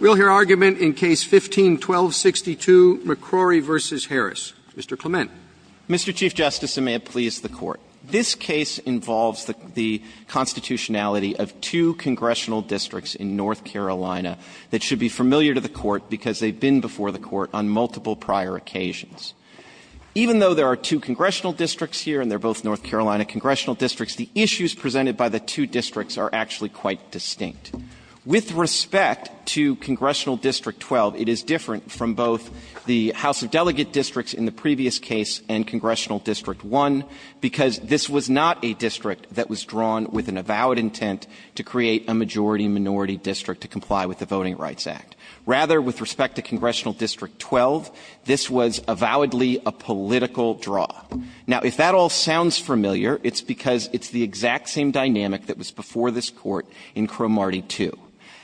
We'll hear argument in Case No. 15-1262, McCrory v. Harris. Mr. Clement. Mr. Chief Justice, and may it please the Court, this case involves the constitutionality of two congressional districts in North Carolina that should be familiar to the Court because they've been before the Court on multiple prior occasions. Even though there are two congressional districts here and they're both North Carolina congressional districts, the issues presented by the two districts are actually quite distinct. With respect to Congressional District 12, it is different from both the House of Delegate districts in the previous case and Congressional District 1, because this was not a district that was drawn with an avowed intent to create a majority-minority district to comply with the Voting Rights Act. Rather, with respect to Congressional District 12, this was avowedly a political draw. Now, if that all sounds familiar, it's because it's the exact same dynamic that was before this Court in Cromartie 2.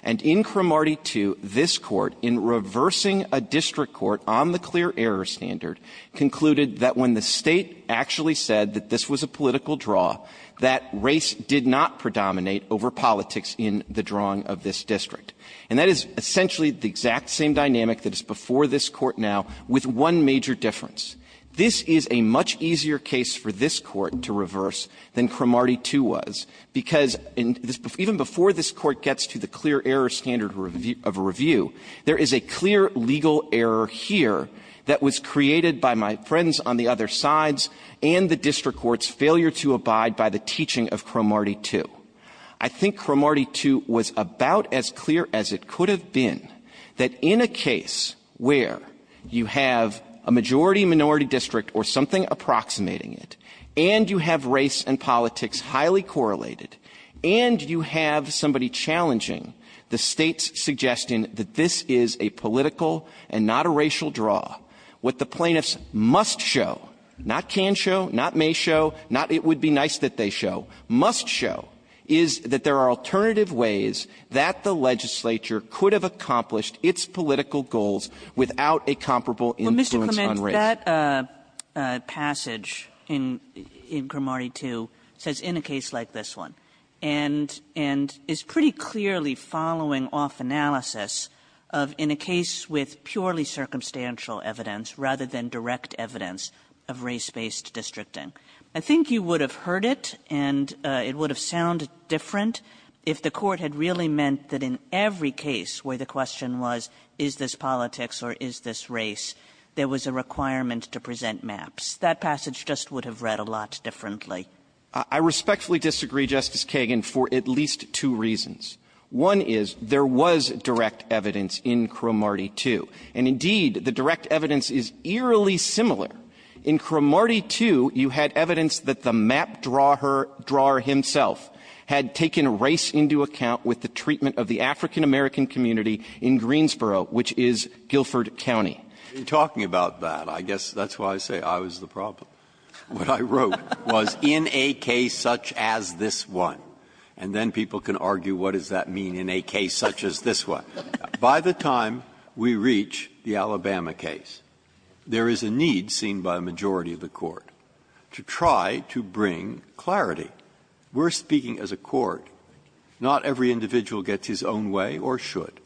And in Cromartie 2, this Court, in reversing a district court on the clear-error standard, concluded that when the State actually said that this was a political draw, that race did not predominate over politics in the drawing of this district. And that is essentially the exact same dynamic that is before this Court now, with one major difference. This is a much easier case for this Court to reverse than Cromartie 2 was, because even before this Court gets to the clear-error standard of a review, there is a clear legal error here that was created by my friends on the other sides and the district courts' failure to abide by the teaching of Cromartie 2. I think Cromartie 2 was about as clear as it could have been that in a case where you have a majority-minority district or something approximating it, and you have race and politics highly correlated, and you have somebody challenging the State's suggestion that this is a political and not a racial draw, what the plaintiffs must show, not can show, not may show, not it would be nice that they show, must show, is that there are alternative ways that the legislature could have accomplished its political goals without a comparable influence on race. Kagan in that passage in Cromartie 2 says, in a case like this one, and is pretty clearly following off analysis of, in a case with purely circumstantial evidence rather than direct evidence of race-based districting. I think you would have heard it, and it would have sounded different if the Court had really meant that in every case where the question was, is this politics or is this government to present maps, that passage just would have read a lot differently. I respectfully disagree, Justice Kagan, for at least two reasons. One is, there was direct evidence in Cromartie 2. And indeed, the direct evidence is eerily similar. In Cromartie 2, you had evidence that the map-drawer himself had taken race into account with the treatment of the African-American community in Greensboro, which is Guilford County. Breyer. Breyer. Breyer. In talking about that, I guess that's why I say I was the problem. What I wrote was, in a case such as this one, and then people can argue, what does that mean? In a case such as this one. By the time we reach the Alabama case, there is a need seen by the majority of the Court to try to bring clarity. We are speaking as a court. Not every individual gets his own way or should.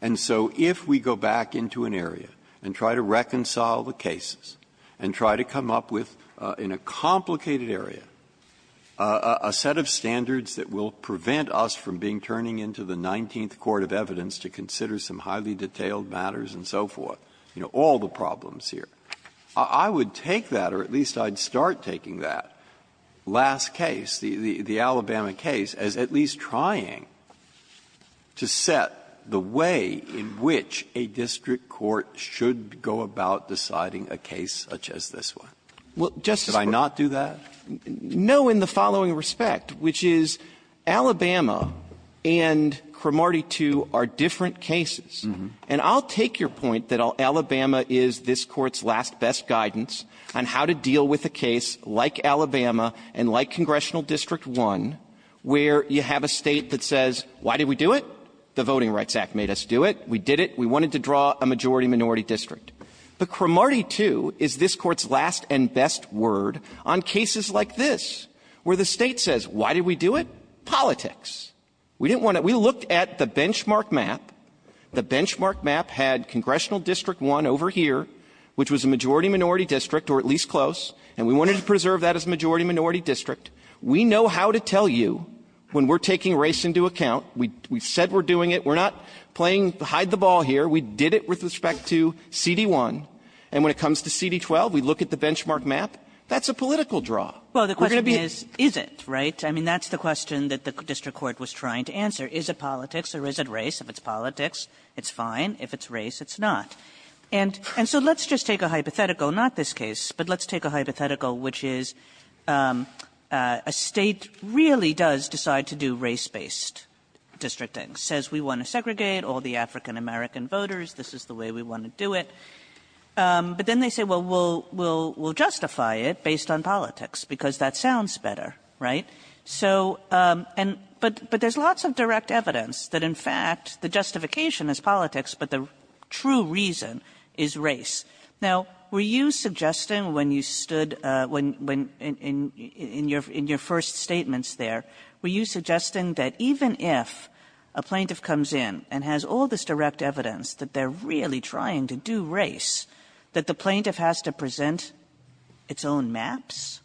And so if we go back into an area and try to reconcile the cases and try to come up with, in a complicated area, a set of standards that will prevent us from being turning into the Nineteenth Court of Evidence to consider some highly detailed matters and so forth, you know, all the problems here, I would take that, or at least I'd start taking that last case, the Alabama case, as at least trying to set the way in which a district court should go about deciding a case such as this one. Should I not do that? No, in the following respect, which is, Alabama and Cromartie II are different cases. And I'll take your point that Alabama is this Court's last best guidance on how to deal with a case like Alabama and like Congressional District I where you have a State that says, why did we do it? The Voting Rights Act made us do it. We did it. We wanted to draw a majority-minority district. But Cromartie II is this Court's last and best word on cases like this where the State says, why did we do it? Politics. We didn't want to – we looked at the benchmark map. The benchmark map had Congressional District I over here, which was a majority-minority district or at least close, and we wanted to preserve that as a majority-minority district. We know how to tell you when we're taking race into account. We said we're doing it. We're not playing hide-the-ball here. We did it with respect to CD I, and when it comes to CD XII, we look at the benchmark That's a political draw. We're going to be – Kagan. Well, the question is, is it, right? I mean, that's the question that the district court was trying to answer. Is it politics or is it race? If it's politics, it's fine. If it's race, it's not. And so let's just take a hypothetical, not this case, but let's take a hypothetical which is a state really does decide to do race-based districting, says we want to segregate all the African-American voters. This is the way we want to do it. But then they say, well, we'll justify it based on politics, because that sounds better, right? So – but there's lots of direct evidence that, in fact, the justification is politics, but the true reason is race. Now, were you suggesting when you stood – when – in your first statements there, were you suggesting that even if a plaintiff comes in and has all this direct evidence that they're really trying to do race, that the plaintiff has to present its own maps?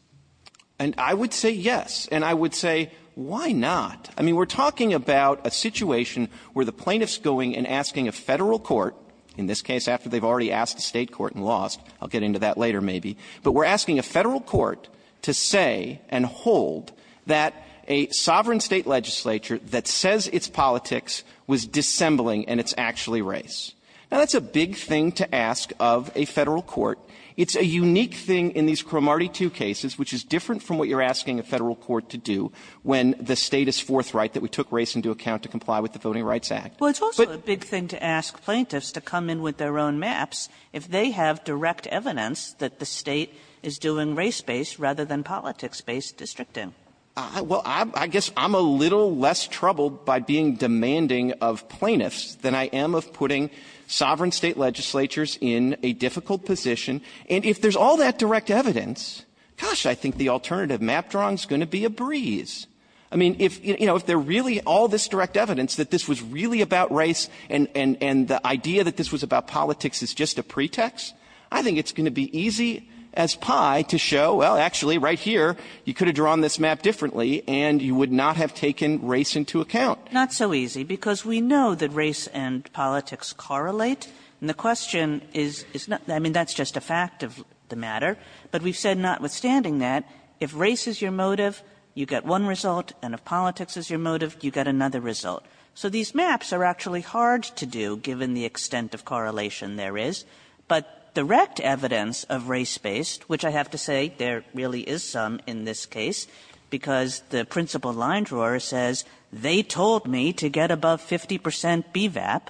And I would say yes. And I would say, why not? I mean, we're talking about a situation where the plaintiff's going and asking a Federal court – in this case, after they've already asked a State court and lost. I'll get into that later, maybe. But we're asking a Federal court to say and hold that a sovereign State legislature that says it's politics was dissembling and it's actually race. Now, that's a big thing to ask of a Federal court. It's a unique thing in these Cromartie 2 cases, which is different from what you're asking a Federal court to do when the State is forthright that we took race into account to comply with the Voting Rights Act. But – Kagan Well, it's also a big thing to ask plaintiffs to come in with their own maps if they have direct evidence that the State is doing race-based rather than politics-based districting. Clement Well, I guess I'm a little less troubled by being demanding of plaintiffs than I am of putting sovereign State legislatures in a difficult position. And if there's all that direct evidence, gosh, I think the alternative map drawing is going to be a breeze. I mean, if, you know, if there's really all this direct evidence that this was really about race and the idea that this was about politics is just a pretext, I think it's going to be easy as pie to show, well, actually, right here, you could have drawn this map differently, and you would not have taken race into account. Kagan Not so easy, because we know that race and politics correlate. And the question is not – I mean, that's just a fact of the matter. But we've said notwithstanding that, if race is your motive, you get one result, and if politics is your motive, you get another result. So these maps are actually hard to do, given the extent of correlation there is. But direct evidence of race-based, which I have to say there really is some in this case, because the principal line drawer says they told me to get above 50 percent BVAP,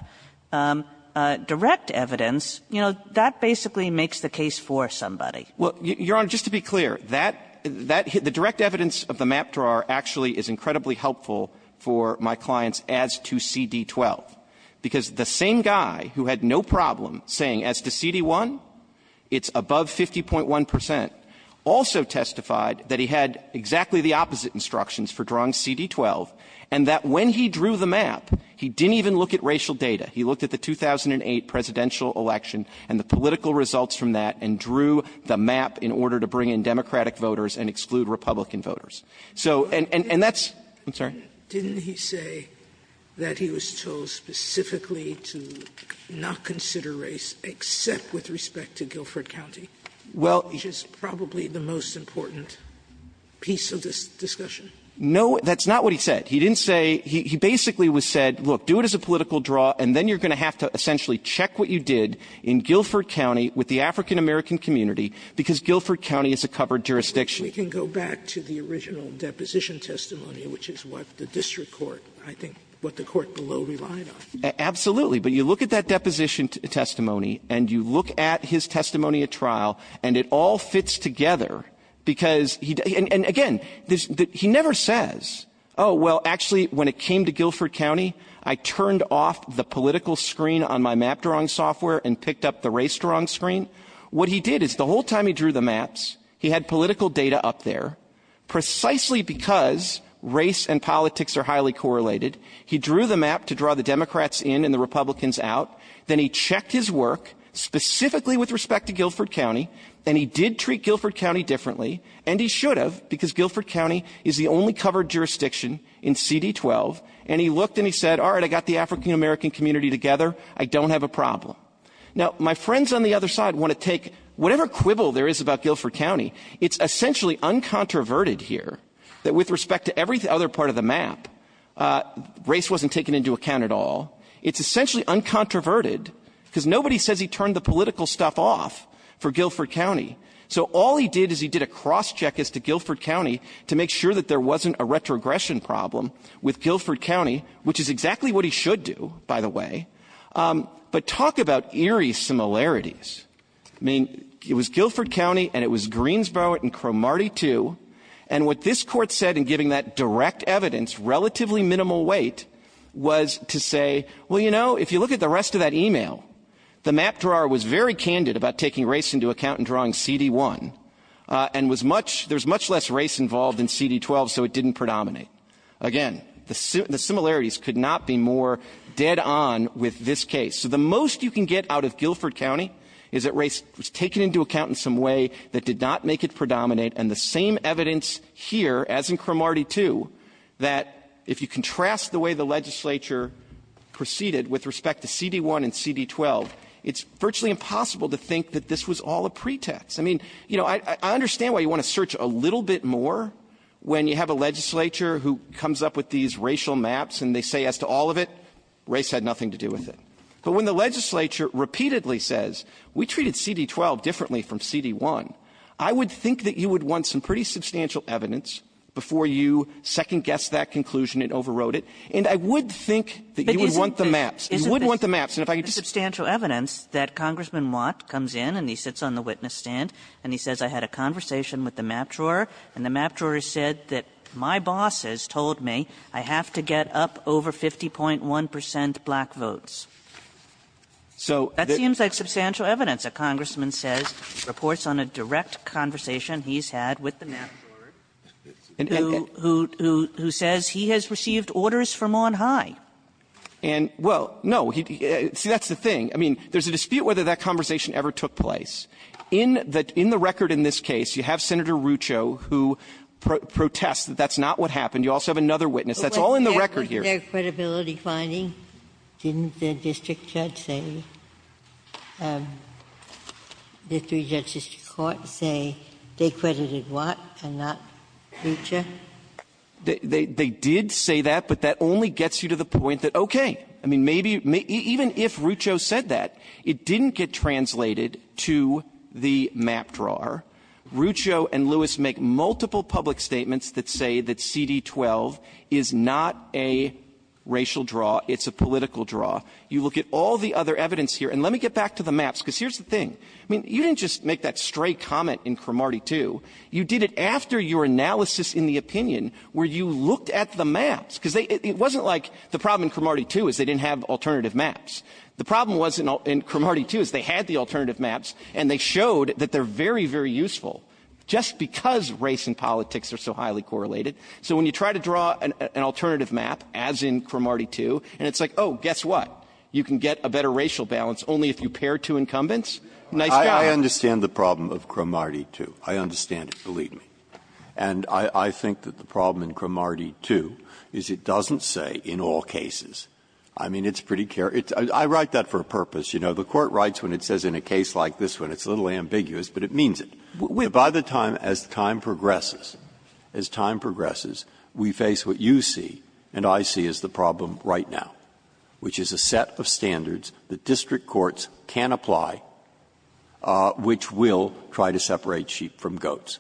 direct evidence, you know, that basically makes the case for somebody. Well, Your Honor, just to be clear, that – that – the direct evidence of the map drawer actually is incredibly helpful for my clients as to CD12, because the same guy who had no problem saying as to CD1, it's above 50.1 percent, also testified that he had exactly the opposite instructions for drawing CD12, and that when he drew the map, he didn't even look at racial data. He looked at the 2008 presidential election and the political results from that and drew the map in order to bring in Democratic voters and exclude Republican voters. So – and that's – I'm sorry? Didn't he say that he was told specifically to not consider race except with respect to Guilford County, which is probably the most important piece of this discussion? No, that's not what he said. He didn't say – he basically said, look, do it as a political draw, and then you're going to have to essentially check what you did in Guilford County with the African-American community, because Guilford County is a covered jurisdiction. Sotomayor, we can go back to the original deposition testimony, which is what the district court, I think, what the court below relied on. Absolutely. But you look at that deposition testimony and you look at his testimony at trial, and it all fits together, because he – and again, he never says, oh, well, actually, when it came to Guilford County, I turned off the political screen on my map-drawing software and picked up the race-drawing screen. What he did is the whole time he drew the maps, he had political data up there. Precisely because race and politics are highly correlated, he drew the map to draw the Democrats in and the Republicans out. Then he checked his work specifically with respect to Guilford County, and he did treat Guilford County differently, and he should have, because Guilford County is the only covered jurisdiction in CD12. And he looked and he said, all right, I got the African-American community together. I don't have a problem. Now, my friends on the other side want to take whatever quibble there is about Guilford County, it's essentially uncontroverted here, that with respect to every other part of the map, race wasn't taken into account at all. It's essentially uncontroverted, because nobody says he turned the political stuff off for Guilford County. So all he did is he did a cross-check as to Guilford County to make sure that there wasn't a retrogression problem with Guilford County, which is exactly what he should do, by the way. But talk about eerie similarities. I mean, it was Guilford County and it was Greensboro and Cromartie too, and what this Court said in giving that direct evidence, relatively minimal weight, was to say, well, you know, if you look at the rest of that e-mail, the map drawer was very candid about taking race into account in drawing CD1, and was much, there's much less race involved in CD12, so it didn't predominate. Again, the similarities could not be more dead on with this case. So the most you can get out of Guilford County is that race was taken into account in some way that did not make it predominate, and the same evidence here, as in Cromartie too, that if you contrast the way the legislature proceeded with respect to CD1 and CD12, it's virtually impossible to think that this was all a pretext. I mean, you know, I understand why you want to search a little bit more when you have a legislature who comes up with these racial maps and they say as to all of it, race had nothing to do with it. But when the legislature repeatedly says we treated CD12 differently from CD1, I would think that you would want some pretty substantial evidence before you second-guess that conclusion and overrode it, and I would think that you would want the maps. You would want the maps. And if I could just say this. Kagan. Kagan. Kagan. Kagan. Kagan. Kagan. Kagan. Kagan. Kagan. Kagan. Kagan. Kagan. Kagan. But my boss has told me I have to get up over 50.1 percent black votes. So that seems like substantial evidence, a congressman says, reports on a direct conversation he's had with the map, who says he has received orders from on high. And, well, no, see, that's the thing. I mean, there's a dispute whether that conversation ever took place. In the record in this case, you have Senator Rucho who protests that that's not what happened. You also have another witness. That's all in the record here. Ginsburg. But wasn't there a credibility finding? Didn't the district judge say, the three judges to court say they credited Watt and not Rucho? They did say that, but that only gets you to the point that, okay, I mean, maybe even if Rucho said that, it didn't get translated to the map drawer. Rucho and Lewis make multiple public statements that say that CD12 is not a racial draw. It's a political draw. You look at all the other evidence here. And let me get back to the maps, because here's the thing. I mean, you didn't just make that stray comment in Cromartie 2. You did it after your analysis in the opinion where you looked at the maps, because it wasn't like the problem in Cromartie 2 is they didn't have alternative maps. The problem was in Cromartie 2 is they had the alternative maps, and they showed that they're very, very useful just because race and politics are so highly correlated. So when you try to draw an alternative map, as in Cromartie 2, and it's like, oh, guess what? You can get a better racial balance only if you pair two incumbents? Nice job. Breyer. I understand the problem of Cromartie 2. I understand it, believe me. And I think that the problem in Cromartie 2 is it doesn't say in all cases. I mean, it's pretty care — I write that for a purpose. You know, the Court writes when it says in a case like this one. It's a little ambiguous, but it means it. By the time — as time progresses, as time progresses, we face what you see and I see as the problem right now, which is a set of standards that district courts can apply which will try to separate sheep from goats.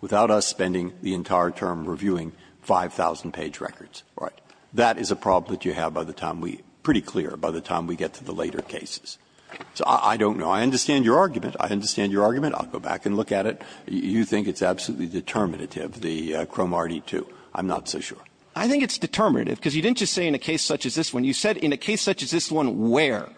Without us spending the entire term reviewing 5,000-page records. All right. That is a problem that you have by the time we — pretty clear by the time we get to the later cases. So I don't know. I understand your argument. I understand your argument. I'll go back and look at it. You think it's absolutely determinative, the Cromartie 2. I'm not so sure. I think it's determinative, because you didn't just say in a case such as this one. You said in a case such as this one where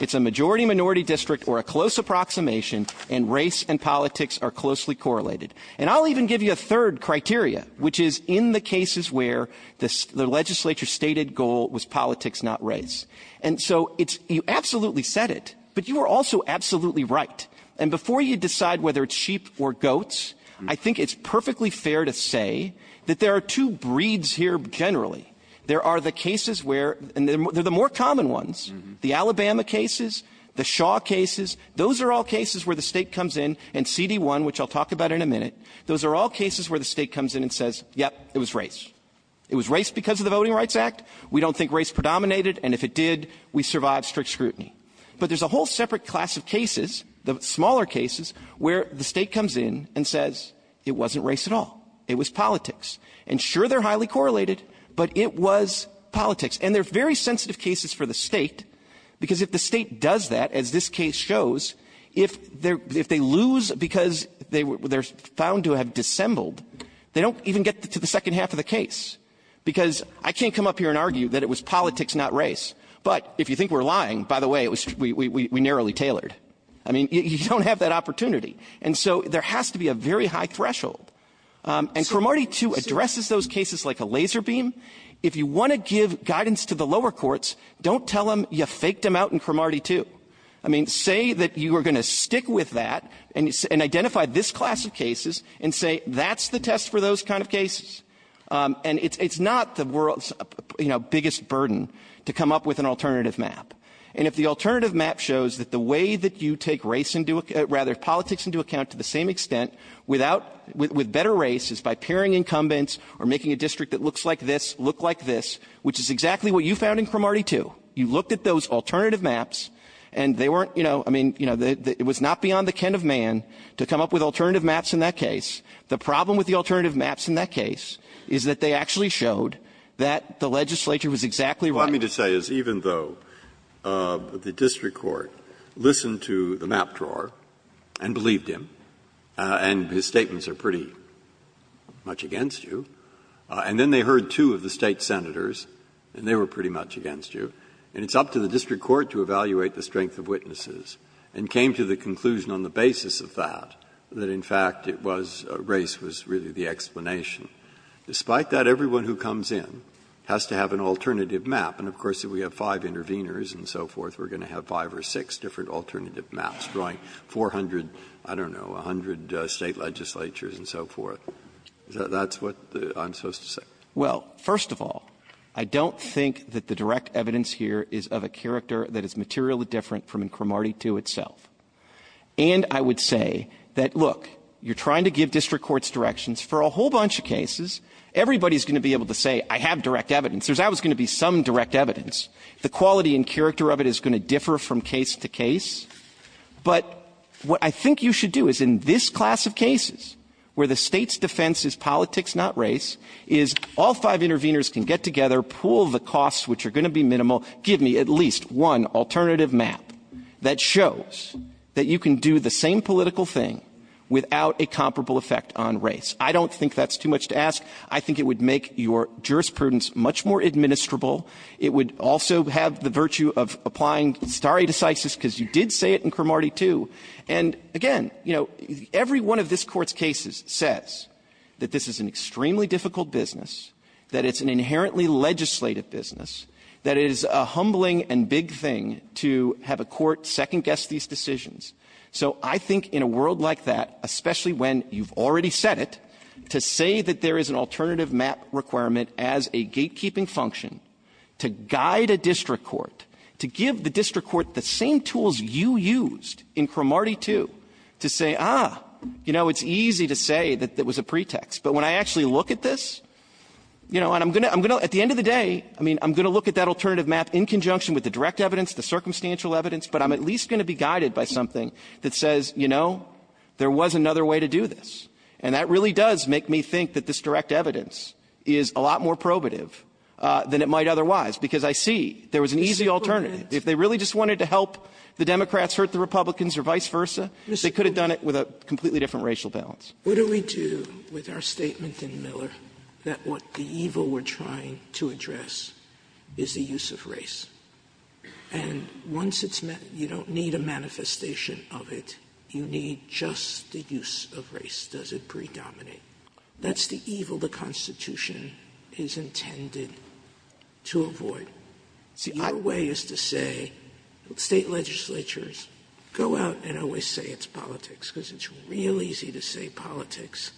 it's a majority-minority district or a close approximation and race and politics are closely correlated. And I'll even give you a third criteria, which is in the cases where the legislature's stated goal was politics, not race. And so it's — you absolutely said it, but you were also absolutely right. And before you decide whether it's sheep or goats, I think it's perfectly fair to say that there are two breeds here generally. There are the cases where — and they're the more common ones, the Alabama cases, the Shaw cases. Those are all cases where the State comes in and CD1, which I'll talk about in a minute, those are all cases where the State comes in and says, yep, it was race. It was race because of the Voting Rights Act. We don't think race predominated, and if it did, we survived strict scrutiny. But there's a whole separate class of cases, the smaller cases, where the State comes in and says it wasn't race at all. It was politics. And sure, they're highly correlated, but it was politics. And they're very sensitive cases for the State, because if the State does that, as this case shows, if they're — if they lose because they're found to have dissembled, they don't even get to the second half of the case, because I can't come up here and argue that it was politics, not race. But if you think we're lying, by the way, it was — we narrowly tailored. I mean, you don't have that opportunity. And so there has to be a very high threshold. And Cromartie too addresses those cases like a laser beam. If you want to give guidance to the lower courts, don't tell them you faked them out in Cromartie too. I mean, say that you are going to stick with that and identify this class of cases and say that's the test for those kind of cases. And it's not the world's, you know, biggest burden to come up with an alternative map. And if the alternative map shows that the way that you take race into — rather, politics into account to the same extent without — with better race is by pairing incumbents or making a district that looks like this look like this, which is exactly what you found in Cromartie too. You looked at those alternative maps, and they weren't, you know — I mean, you know, it was not beyond the kin of man to come up with alternative maps in that case. The problem with the alternative maps in that case is that they actually showed that the legislature was exactly right. Breyer. Breyer. Let me just say, even though the district court listened to the map drawer and believed him, and his statements are pretty much against you, and then they heard two of the State senators, and they were pretty much against you, and it's up to the district court to evaluate the strength of witnesses, and came to the conclusion on the basis of that, that in fact it was — race was really the explanation. Despite that, everyone who comes in has to have an alternative map. And of course, if we have five intervenors and so forth, we're going to have five or six different alternative maps drawing 400 — I don't know, 100 State legislatures and so forth. That's what I'm supposed to say. Well, first of all, I don't think that the direct evidence here is of a character that is materially different from Incremarty 2 itself. And I would say that, look, you're trying to give district courts directions for a whole bunch of cases. Everybody is going to be able to say, I have direct evidence. There's always going to be some direct evidence. The quality and character of it is going to differ from case to case. But what I think you should do is, in this class of cases where the State's defense is politics, not race, is all five intervenors can get together, pool the costs, which are going to be minimal, give me at least one alternative map that shows that you can do the same political thing without a comparable effect on race. I don't think that's too much to ask. I think it would make your jurisprudence much more administrable. It would also have the virtue of applying stare decisis, because you did say it in Incremarty 2. And, again, you know, every one of this Court's cases says that this is an extremely difficult business, that it's an inherently legislative business, that it is a humbling and big thing to have a court second-guess these decisions. So I think in a world like that, especially when you've already said it, to say that there is an alternative map requirement as a gatekeeping function to guide a district court, to give the district court the same tools you used in Incremarty 2 to say, ah, you know, it's easy to say that that was a pretext. But when I actually look at this, you know, and I'm going to at the end of the day, I mean, I'm going to look at that alternative map in conjunction with the direct evidence, the circumstantial evidence, but I'm at least going to be guided by something that says, you know, there was another way to do this. And that really does make me think that this direct evidence is a lot more probative than it might otherwise, because I see there was an easy alternative. If they really just wanted to help the Democrats hurt the Republicans or vice versa, they could have done it with a completely different racial balance. Sotomayor, what do we do with our statement in Miller that what the evil we're trying to address is the use of race? And once it's met, you don't need a manifestation of it, you need just the use of race. Does it predominate? That's the evil the Constitution is intended to avoid. See, our way is to say State legislatures, go out and always say it's politics, because it's real easy to say politics,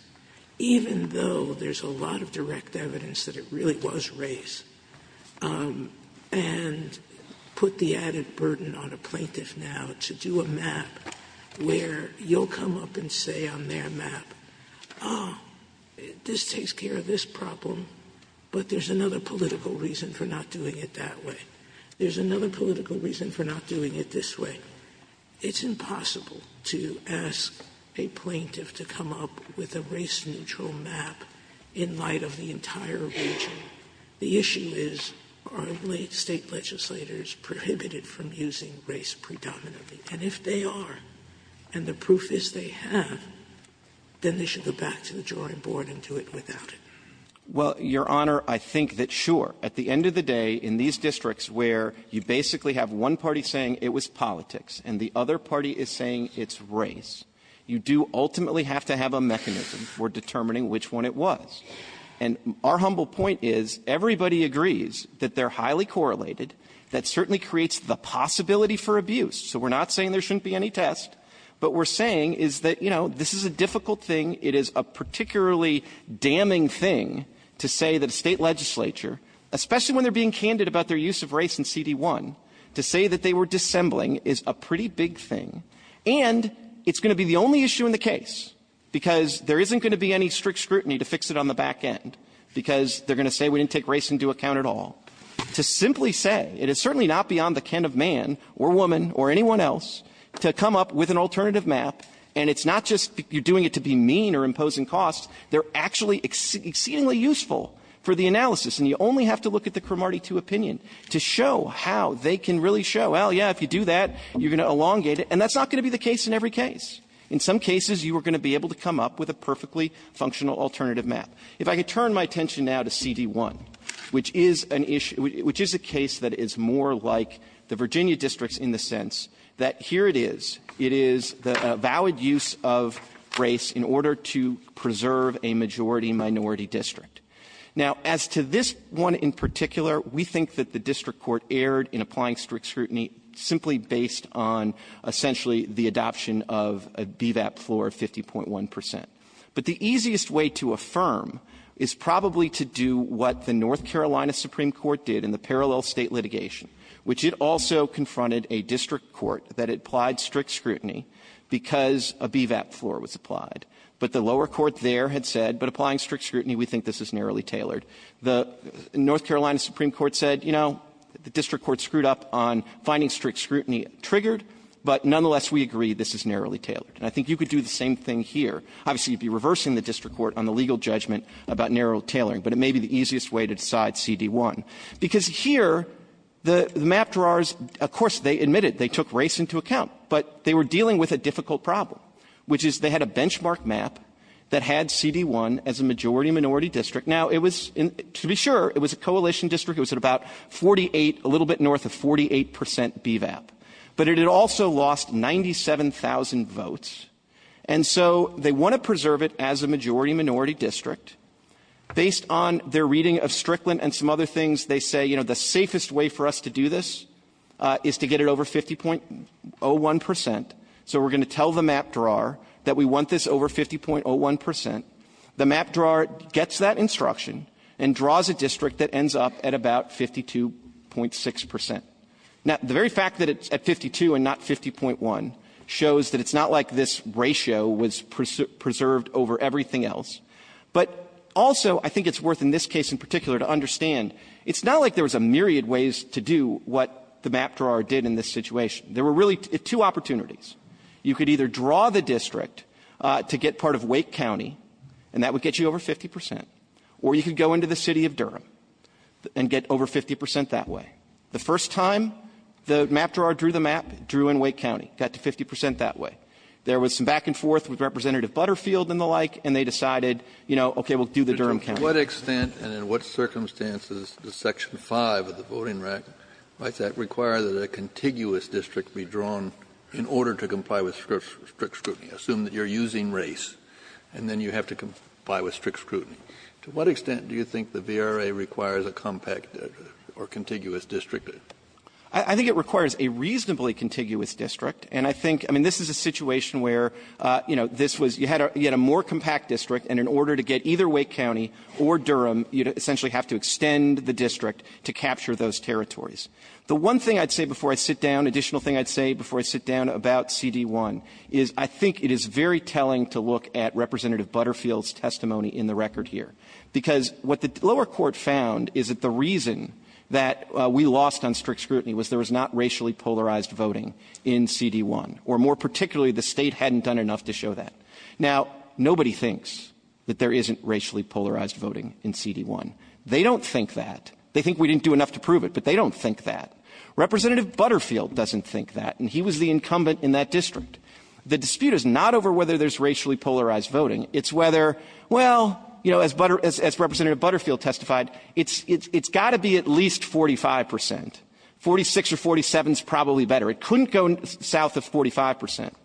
even though there's a lot of direct evidence that it really was race, and put the added burden on a plaintiff now to do a map where you'll come up and say on their map, ah, this takes care of this problem, but there's another political reason for not doing it that way. There's another political reason for not doing it this way. It's impossible to ask a plaintiff to come up with a race-neutral map in light of the entire region. The issue is, are State legislators prohibited from using race predominantly? And if they are, and the proof is they have, then they should go back to the drawing board and do it without it. Well, Your Honor, I think that, sure, at the end of the day, in these districts where you basically have one party saying it was politics and the other party is saying it's race, you do ultimately have to have a mechanism for determining which one it was. And our humble point is, everybody agrees that they're highly correlated. That certainly creates the possibility for abuse. So we're not saying there shouldn't be any test. What we're saying is that, you know, this is a difficult thing. It is a particularly damning thing to say that a State legislature, especially when they're being candid about their use of race in CD1, to say that they were dissembling is a pretty big thing. And it's going to be the only issue in the case, because there isn't going to be any strict scrutiny to fix it on the back end, because they're going to say we didn't take race into account at all. To simply say, it is certainly not beyond the kin of man or woman or anyone else to come up with an alternative map, and it's not just you're doing it to be mean or imposing costs. They're actually exceedingly useful for the analysis, and you only have to look at the Cromartie 2 opinion to show how they can really show, well, yeah, if you do that, you're going to elongate it. And that's not going to be the case in every case. In some cases, you are going to be able to come up with a perfectly functional alternative map. If I could turn my attention now to CD1, which is an issue – which is a case that is more like the Virginia districts in the sense that here it is. It is a valid use of race in order to preserve a majority-minority district. Now, as to this one in particular, we think that the district court erred in applying strict scrutiny simply based on essentially the adoption of a BVAP floor of 50.1 percent. But the easiest way to affirm is probably to do what the North Carolina Supreme Court did in the parallel State litigation, which it also confronted a district court that applied strict scrutiny because a BVAP floor was applied. But the lower court there had said, but applying strict scrutiny, we think this is narrowly tailored. The North Carolina Supreme Court said, you know, the district court screwed up on finding strict scrutiny triggered, but nonetheless, we agree this is narrowly tailored. And I think you could do the same thing here. Obviously, you would be reversing the district court on the legal judgment about narrow tailoring, but it may be the easiest way to decide CD1. Because here, the map drawers, of course, they admitted they took race into account, but they were dealing with a difficult problem, which is they had a benchmark map that had CD1 as a majority-minority district. Now, it was – to be sure, it was a coalition district. It was at about 48 – a little bit north of 48 percent BVAP. But it had also lost 97,000 votes. And so they want to preserve it as a majority-minority district. Based on their reading of Strickland and some other things, they say, you know, the safest way for us to do this is to get it over 50.01 percent. So we're going to tell the map drawer that we want this over 50.01 percent. The map drawer gets that instruction and draws a district that ends up at about 52.6 percent. Now, the very fact that it's at 52 and not 50.1 shows that it's not like this ratio was preserved over everything else. But also, I think it's worth, in this case in particular, to understand it's not like there was a myriad ways to do what the map drawer did in this situation. There were really two opportunities. You could either draw the district to get part of Wake County, and that would get you over 50 percent, or you could go into the city of Durham and get over 50 percent that way. The first time the map drawer drew the map, it drew in Wake County. It got to 50 percent that way. There was some back and forth with Representative Butterfield and the like, and they decided, you know, okay, we'll do the Durham County. Kennedy, to what extent and in what circumstances does Section 5 of the Voting Recreation Act require that a contiguous district be drawn in order to comply with strict scrutiny? Assume that you're using race, and then you have to comply with strict scrutiny. To what extent do you think the VRA requires a compact or contiguous district? I think it requires a reasonably contiguous district, and I think, I mean, this is a situation where, you know, this was you had a more compact district, and in order to get either Wake County or Durham, you essentially have to extend the district to capture those territories. The one thing I'd say before I sit down, additional thing I'd say before I sit down about CD1 is I think it is very telling to look at Representative Butterfield's testimony in the record here, because what the lower court found is that the reason that we lost on strict scrutiny was there was not racially polarized voting in CD1, or more particularly, the State hadn't done enough to show that. Now, nobody thinks that there isn't racially polarized voting in CD1. They don't think that. They think we didn't do enough to prove it, but they don't think that. Representative Butterfield doesn't think that, and he was the incumbent in that district. The dispute is not over whether there's racially polarized voting. It's whether, well, you know, as Representative Butterfield testified, it's got to be at least 45 percent. Forty-six or forty-seven is probably better. It couldn't go south of 45 percent.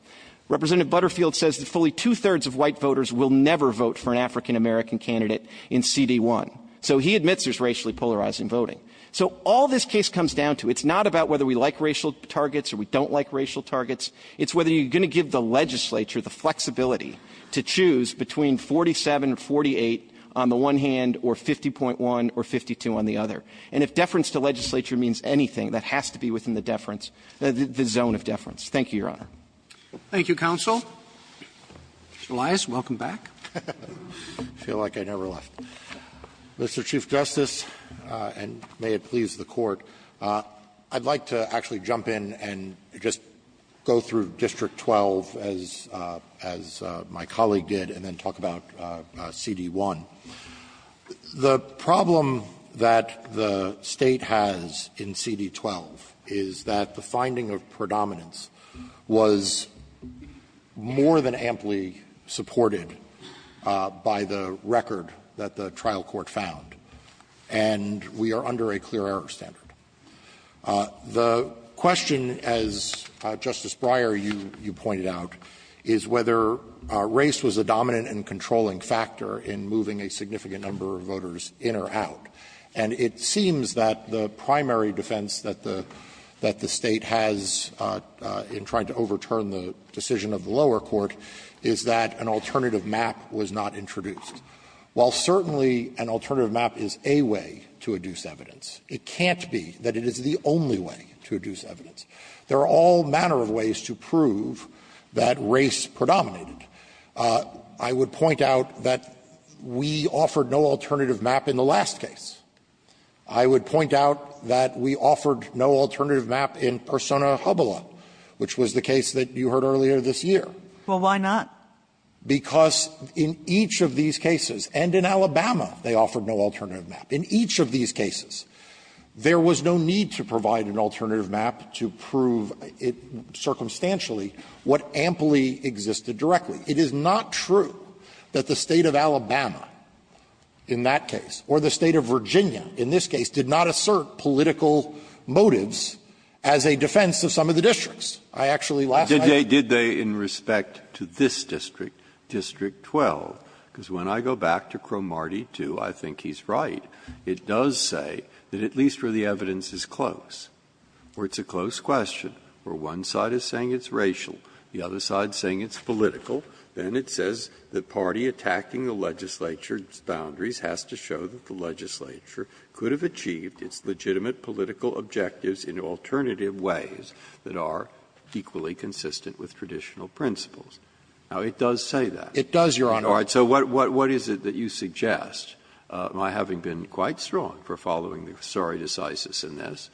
Representative Butterfield says that fully two-thirds of white voters will never vote for an African-American candidate in CD1, so he admits there's racially polarizing voting. So all this case comes down to, it's not about whether we like racial targets or we don't like racial targets. It's whether you're going to give the legislature the flexibility to choose between 47 or 48 on the one hand or 50.1 or 52 on the other. And if deference to legislature means anything, that has to be within the deference the zone of deference. Thank you, Your Honor. Roberts. Thank you, counsel. Mr. Elias, welcome back. Elias. I feel like I never left. Mr. Chief Justice, and may it please the Court, I'd like to actually jump in and just go through District 12 as my colleague did and then talk about CD1. The problem that the State has in CD12 is that the finding of predominance was more than amply supported by the record that the trial court found, and we are under a clear error standard. The question, as Justice Breyer, you pointed out, is whether race was a dominant and controlling factor in moving a significant number of voters in or out. And it seems that the primary defense that the State has in trying to overturn the decision of the lower court is that an alternative map was not introduced. While certainly an alternative map is a way to adduce evidence, it can't be an alternative way. That it is the only way to adduce evidence. There are all manner of ways to prove that race predominated. I would point out that we offered no alternative map in the last case. I would point out that we offered no alternative map in Persona Hubbella, which was the case that you heard earlier this year. Well, why not? Because in each of these cases, and in Alabama, they offered no alternative map. In each of these cases, there was no need to provide an alternative map to prove it circumstantially what amply existed directly. It is not true that the State of Alabama in that case, or the State of Virginia in this case, did not assert political motives as a defense of some of the districts. I actually last night. Breyer, in respect to this district, District 12, because when I go back to Cromarty 2, I think he's right. It does say that at least where the evidence is close, where it's a close question, where one side is saying it's racial, the other side is saying it's political, then it says the party attacking the legislature's boundaries has to show that the legislature could have achieved its legitimate political objectives in alternative ways that are equally consistent with traditional principles. Now, it does say that. It does, Your Honor. Breyer, so what is it that you suggest, my having been quite strong for following the sorry decisis in this,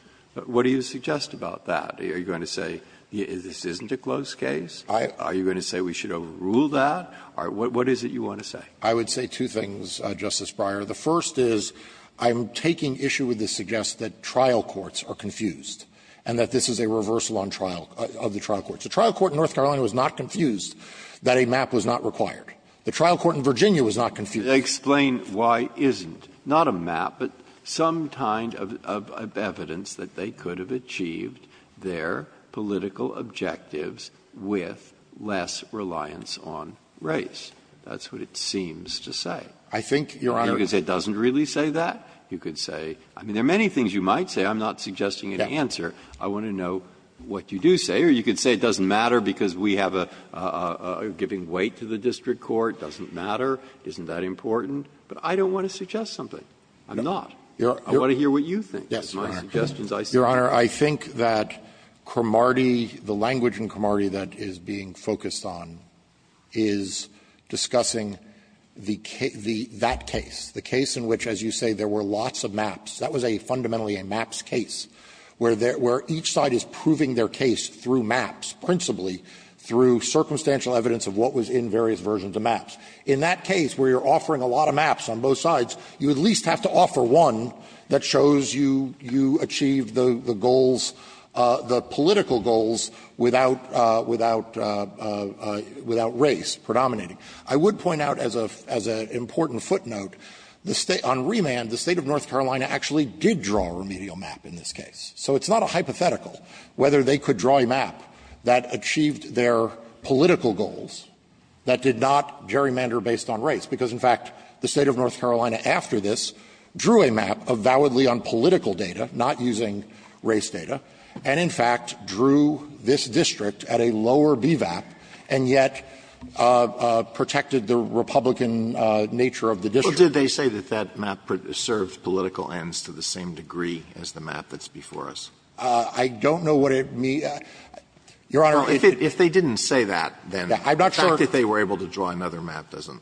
what do you suggest about that? Are you going to say this isn't a close case? Are you going to say we should overrule that? What is it you want to say? I would say two things, Justice Breyer. The first is I'm taking issue with the suggest that trial courts are confused and that this is a reversal on trial of the trial courts. The trial court in North Carolina was not confused that a map was not required. The trial court in Virginia was not confused. Breyer, explain why isn't, not a map, but some kind of evidence that they could have achieved their political objectives with less reliance on race. That's what it seems to say. I think, Your Honor. You could say it doesn't really say that. You could say, I mean, there are many things you might say. I'm not suggesting an answer. I want to know what you do say. Here, you could say it doesn't matter because we have a giving weight to the district court, doesn't matter, isn't that important. But I don't want to suggest something. I'm not. I want to hear what you think. That's my suggestions I see. Your Honor, I think that Cromartie, the language in Cromartie that is being focused on is discussing the case, that case, the case in which, as you say, there were lots of maps. That was a fundamentally a maps case, where each side is proving their case through maps, principally through circumstantial evidence of what was in various versions of maps. In that case, where you're offering a lot of maps on both sides, you at least have to offer one that shows you achieved the goals, the political goals, without, without race predominating. I would point out as an important footnote, the State, on remand, the State of North Carolina actually did draw a remedial map in this case. So it's not a hypothetical whether they could draw a map that achieved their political goals, that did not gerrymander based on race, because, in fact, the State of North Carolina after this drew a map of validly unpolitical data, not using race data, and, in fact, drew this district at a lower BVAP, and yet protected the Republican nature of the district. Alito, did they say that that map served political ends to the same degree as the map that's before us? I don't know what it means. Your Honor, if it, if they didn't say that, then, the fact that they were able to draw another map doesn't,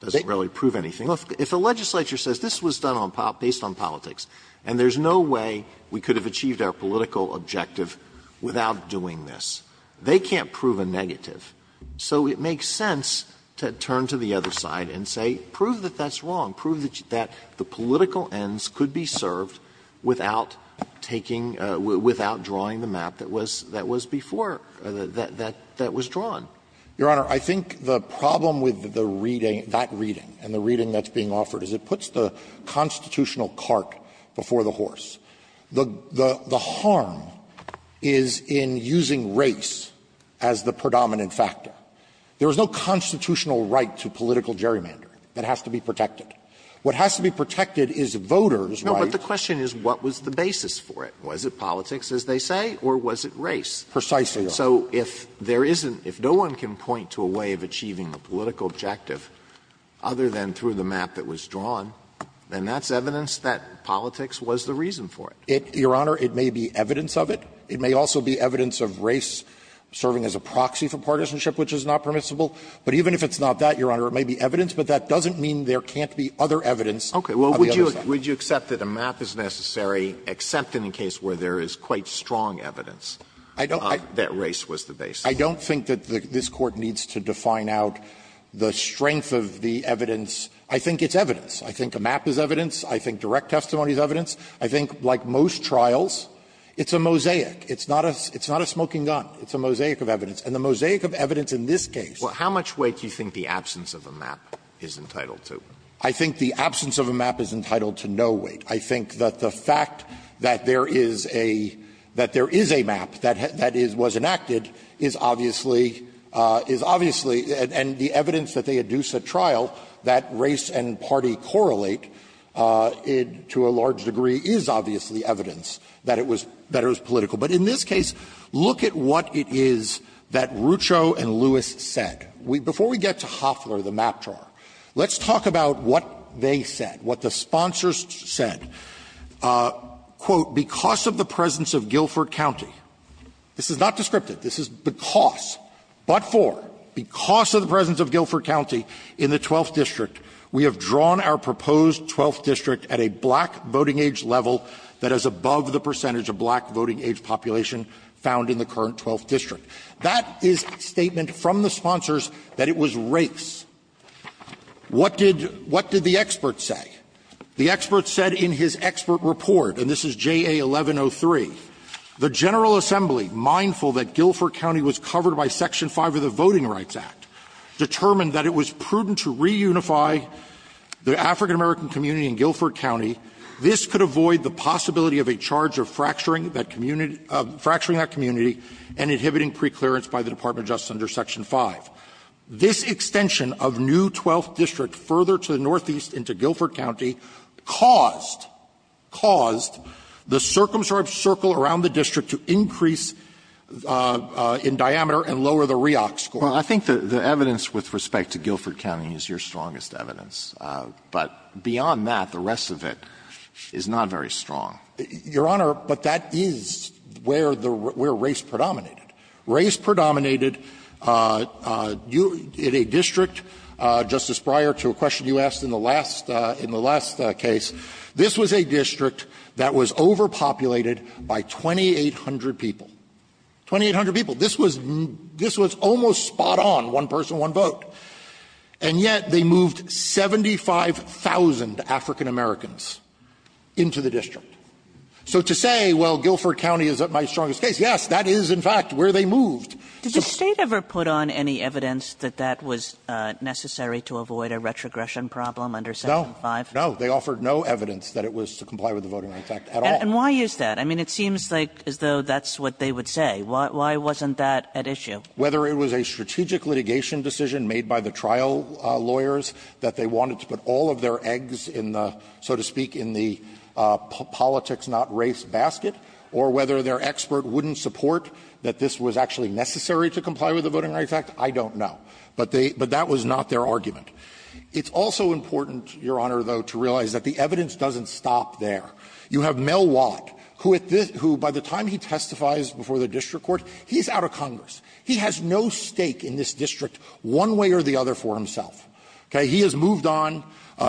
doesn't really prove anything. If a legislature says this was done on, based on politics, and there's no way we could have achieved our political objective without doing this, they can't prove a negative. So it makes sense to turn to the other side and say, prove that that's wrong. Prove that the political ends could be served without taking, without drawing the map that was, that was before, that was drawn. Your Honor, I think the problem with the reading, that reading, and the reading that's being offered is it puts the constitutional cart before the horse. The, the harm is in using race as the predominant factor. There is no constitutional right to political gerrymandering that has to be protected. What has to be protected is voters' rights. Alito, but the question is what was the basis for it? Was it politics, as they say, or was it race? Precisely. So if there isn't, if no one can point to a way of achieving the political objective other than through the map that was drawn, then that's evidence that politics was the reason for it. It, Your Honor, it may be evidence of it. It may also be evidence of race serving as a proxy for partisanship, which is not permissible. But even if it's not that, Your Honor, it may be evidence, but that doesn't mean there can't be other evidence on the other side. Okay. Well, would you, would you accept that a map is necessary, except in the case where there is quite strong evidence that race was the basis? I don't think that this Court needs to define out the strength of the evidence. I think it's evidence. I think a map is evidence. I think direct testimony is evidence. I think, like most trials, it's a mosaic. It's not a, it's not a smoking gun. It's a mosaic of evidence. And the mosaic of evidence in this case. Well, how much weight do you think the absence of a map is entitled to? I think the absence of a map is entitled to no weight. I think that the fact that there is a, that there is a map that, that is, was enacted is obviously, is obviously, and the evidence that they adduce at trial, that race and party correlate to a large degree is obviously evidence that it was, that it was political. But in this case, look at what it is that Rucho and Lewis said. Before we get to Hofler, the map drawer, let's talk about what they said, what the sponsors said. Quote, because of the presence of Guilford County, this is not descriptive. This is because, but for, because of the presence of Guilford County in the 12th District, we have drawn our proposed 12th District at a black voting age level that is above the percentage of black voting age population found in the current 12th District. That is a statement from the sponsors that it was race. What did, what did the experts say? The experts said in his expert report, and this is JA 1103, the General Assembly, mindful that Guilford County was covered by Section 5 of the Voting Rights Act, determined that it was prudent to reunify the African-American community in Guilford County. This could avoid the possibility of a charge of fracturing that community, fracturing that community, and inhibiting preclearance by the Department of Justice under Section 5. This extension of new 12th District further to the northeast into Guilford County caused, caused the circumscribed circle around the district to increase in diameter and lower the REOC score. Well, I think the, the evidence with respect to Guilford County is your strongest evidence, but beyond that, the rest of it is not very strong. Your Honor, but that is where the, where race predominated. Race predominated in a district, Justice Breyer, to a question you asked in the last, in the last case. This was a district that was overpopulated by 2,800 people, 2,800 people. This was, this was almost spot on, one person, one vote. And yet they moved 75,000 African-Americans into the district. So to say, well, Guilford County is not my strongest case, yes, that is in fact where they moved. So the State ever put on any evidence that that was necessary to avoid a retrogression problem under Section 5? No, no. They offered no evidence that it was to comply with the Voting Rights Act at all. And why is that? I mean, it seems like as though that's what they would say. Why, why wasn't that at issue? Whether it was a strategic litigation decision made by the trial lawyers, that they wanted to put all of their eggs in the, so to speak, in the politics-not-race basket, or whether their expert wouldn't support that this was actually necessary to comply with the Voting Rights Act, I don't know. But they, but that was not their argument. It's also important, Your Honor, though, to realize that the evidence doesn't stop there. You have Mel Watt, who at this, who by the time he testifies before the district court, he's out of Congress. He has no stake in this district one way or the other for himself. Okay? He has moved on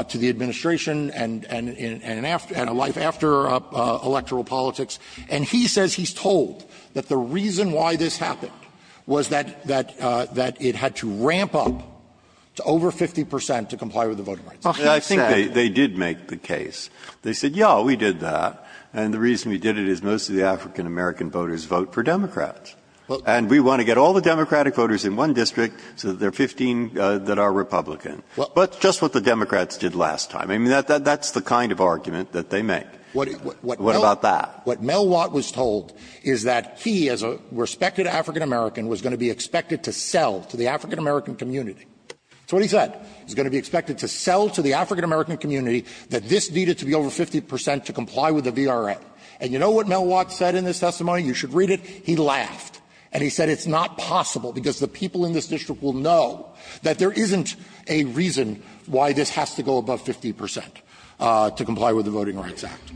to the administration and, and, and a life after electoral politics, and he says he's told that the reason why this happened was that, that it had to ramp up to over 50 percent to comply with the Voting Rights Act. Breyer, I think they, they did make the case. They said, yeah, we did that, and the reason we did it is most of the African-American voters vote for Democrats. And we want to get all the Democratic voters in one district so that there are 15 that are Republican. But just what the Democrats did last time. I mean, that's the kind of argument that they make. What about that? What Mel Watt was told is that he, as a respected African-American, was going to be expected to sell to the African-American community. That's what he said. He was going to be expected to sell to the African-American community that this needed to be over 50 percent to comply with the VRA. And you know what Mel Watt said in his testimony? You should read it. He laughed. And he said it's not possible because the people in this district will know that there isn't a reason why this has to go above 50 percent to comply with the Voting Rights Act.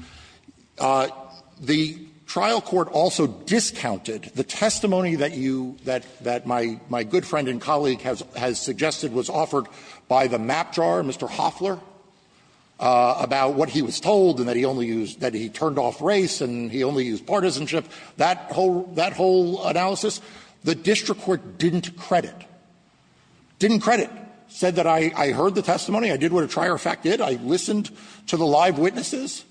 The trial court also discounted the testimony that you, that, that my, my good friend and colleague has, has suggested was offered by the map drawer, Mr. Hoffler, about what he was told and that he only used, that he turned off race and he only used partisanship, that whole, that whole analysis. The district court didn't credit. Didn't credit. Said that I, I heard the testimony, I did what a trier fact did, I listened to the live witnesses,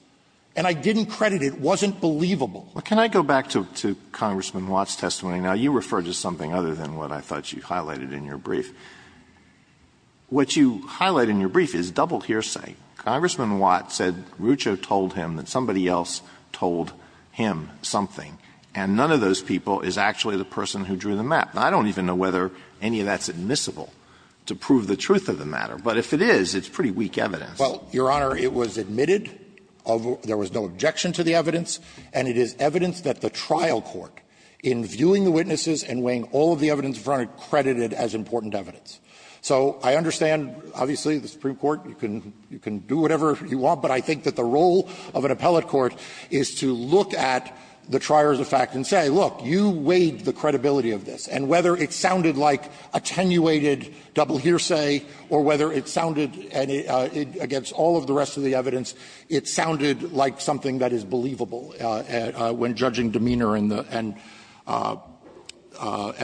and I didn't credit it. It wasn't believable. Alito, can I go back to, to Congressman Watt's testimony? Now, you refer to something other than what I thought you highlighted in your brief. What you highlight in your brief is double hearsay. Congressman Watt said Rucho told him that somebody else told him something, and none of those people is actually the person who drew the map. Now, I don't even know whether any of that's admissible to prove the truth of the matter. But if it is, it's pretty weak evidence. Well, Your Honor, it was admitted, there was no objection to the evidence, and it is evidence that the trial court, in viewing the witnesses and weighing all of the evidence in front of it, credited it as important evidence. So I understand, obviously, the Supreme Court, you can do whatever you want, but I think that the role of an appellate court is to look at the trier's effect and say, look, you weighed the credibility of this. And whether it sounded like attenuated double hearsay or whether it sounded, and against all of the rest of the evidence, it sounded like something that is believable when judging demeanor and the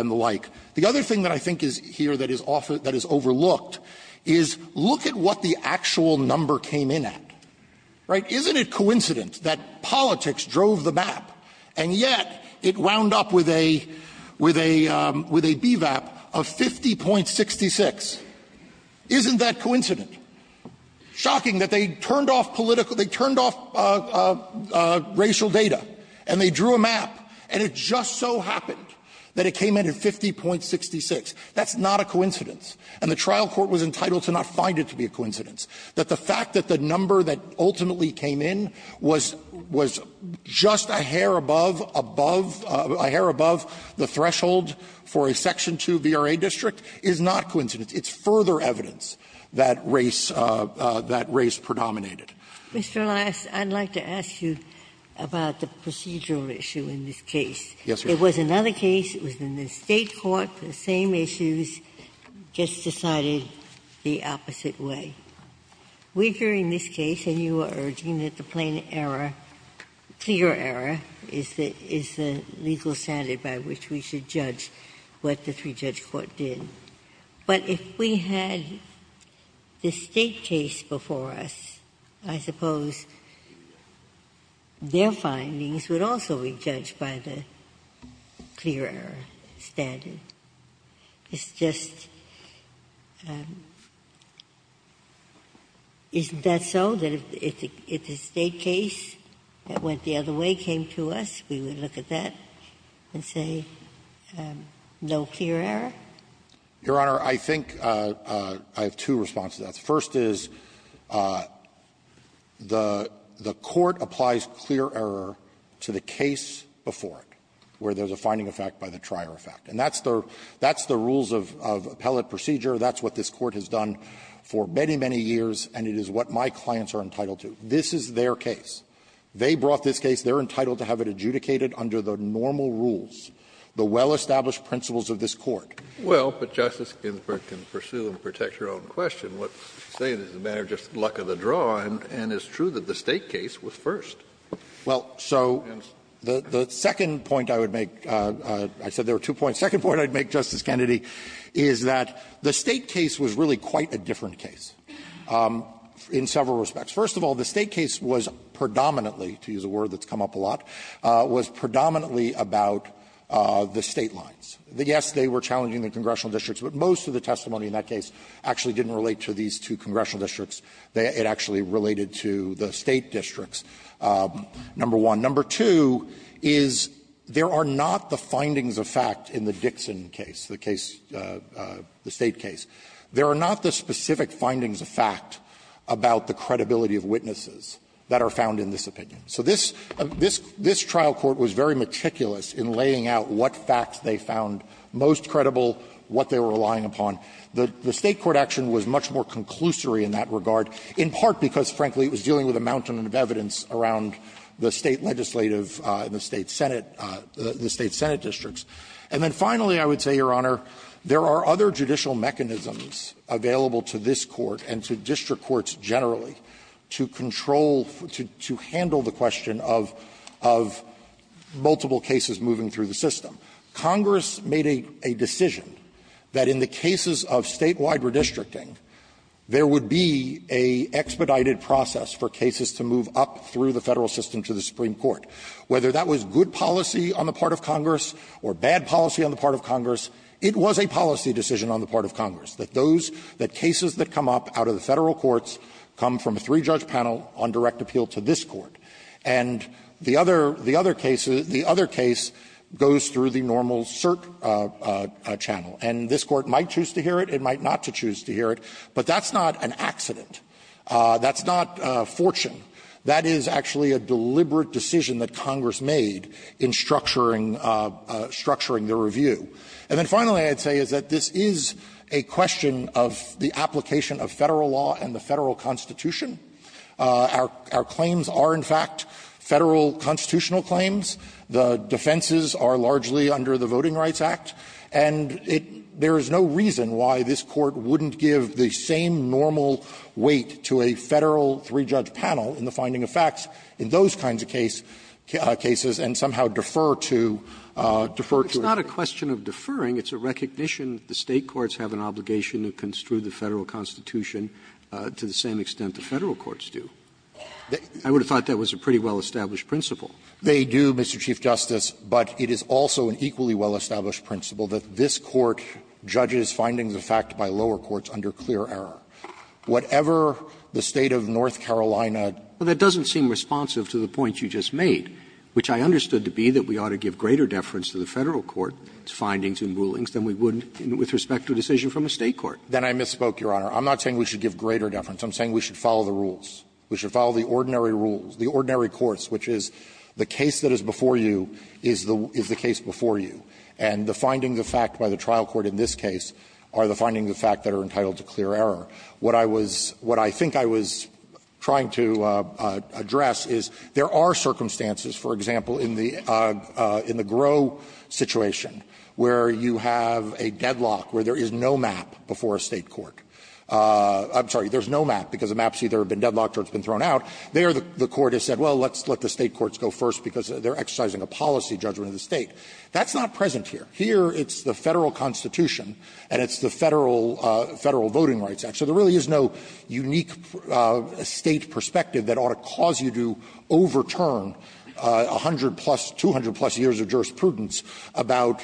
like. The other thing that I think is here that is overlooked is, look at what the actual number came in at, right? Isn't it coincident that politics drove the map, and yet it wound up with a BVAP of 50.66? Isn't that coincident? Shocking that they turned off political, they turned off racial data, and they drew a map, and it just so happened that it came in at 50.66. That's not a coincidence, and the trial court was entitled to not find it to be a coincidence. That the fact that the number that ultimately came in was just a hair above, above the threshold for a Section 2 VRA district is not coincidence. It's further evidence that race, that race predominated. Ginsburg. Mr. Lass, I'd like to ask you about the procedural issue in this case. Yes, Your Honor. It was another case, it was in the State court, the same issues, just decided the opposite way. We're hearing this case, and you are urging that the plain error, clear error, is the legal standard by which we should judge what the three-judge court did. But if we had the State case before us, I suppose their findings would also be judged by the clear error standard. It's just, isn't that so, that if the State case went the other way, came to us, we would look at that and say, no clear error? Your Honor, I think I have two responses to that. The first is the court applies clear error to the case before it, where there's a finding effect by the trier effect. And that's the rules of appellate procedure. That's what this Court has done for many, many years, and it is what my clients are entitled to. This is their case. They brought this case. They're entitled to have it adjudicated under the normal rules, the well-established principles of this Court. Kennedy, but Justice Ginsburg can pursue and protect her own question. What she's saying is a matter of just luck of the draw, and it's true that the State case was first. Well, so the second point I would make, I said there were two points. The second point I would make, Justice Kennedy, is that the State case was really quite a different case in several respects. First of all, the State case was predominantly, to use a word that's come up a lot, was predominantly about the State lines. Yes, they were challenging the congressional districts, but most of the testimony in that case actually didn't relate to these two congressional districts. It actually related to the State districts, number one. Number two is there are not the findings of fact in the Dixon case, the case, the State case. There are not the specific findings of fact about the credibility of witnesses that are found in this opinion. So this trial court was very meticulous in laying out what facts they found most credible, what they were relying upon. The State court action was much more conclusory in that regard, in part because, frankly, it was dealing with a mountain of evidence around the State legislative in the State Senate, the State Senate districts. And then finally, I would say, Your Honor, there are other judicial mechanisms available to this Court and to district courts generally to control, to handle the question of multiple cases moving through the system. Congress made a decision that in the cases of Statewide redistricting, there would be an expedited process for cases to move up through the Federal system to the Supreme Court. Whether that was good policy on the part of Congress or bad policy on the part of Congress, it was a policy decision on the part of Congress, that those, that cases that come up out of the Federal courts come from a three-judge panel on direct appeal to this Court. And the other, the other case, the other case goes through the normal cert channel. And this Court might choose to hear it, it might not choose to hear it, but that's not an accident. That's not fortune. That is actually a deliberate decision that Congress made in structuring, structuring the review. And then finally, I'd say is that this is a question of the application of Federal law and the Federal Constitution. Our, our claims are, in fact, Federal constitutional claims. The defenses are largely under the Voting Rights Act. And it, there is no reason why this Court wouldn't give the same normal weight to a Federal three-judge panel in the finding of facts in those kinds of case, cases and somehow defer to, defer to it. It's not a question of deferring. It's a recognition that the State courts have an obligation to construe the Federal Constitution to the same extent the Federal courts do. I would have thought that was a pretty well-established principle. They do, Mr. Chief Justice, but it is also an equally well-established principle that this Court judges findings of fact by lower courts under clear error. Whatever the State of North Carolina. Well, that doesn't seem responsive to the point you just made, which I understood to be that we ought to give greater deference to the Federal court's findings and rulings than we would with respect to a decision from a State court. Then I misspoke, Your Honor. I'm not saying we should give greater deference. I'm saying we should follow the rules. We should follow the ordinary rules, the ordinary courts, which is the case that is before you is the, is the case before you. And the finding of fact by the trial court in this case are the finding of fact that are entitled to clear error. What I was, what I think I was trying to address is there are circumstances, for example, in the, in the Gros situation, where you have a deadlock, where there is no map before a State court. I'm sorry, there's no map, because the map has either been deadlocked or it's been thrown out. There, the court has said, well, let's let the State courts go first, because they're exercising a policy judgment of the State. That's not present here. Here, it's the Federal Constitution, and it's the Federal, Federal Voting Rights Act, so there really is no unique State perspective that ought to cause you to overturn a 100-plus, 200-plus years of jurisprudence about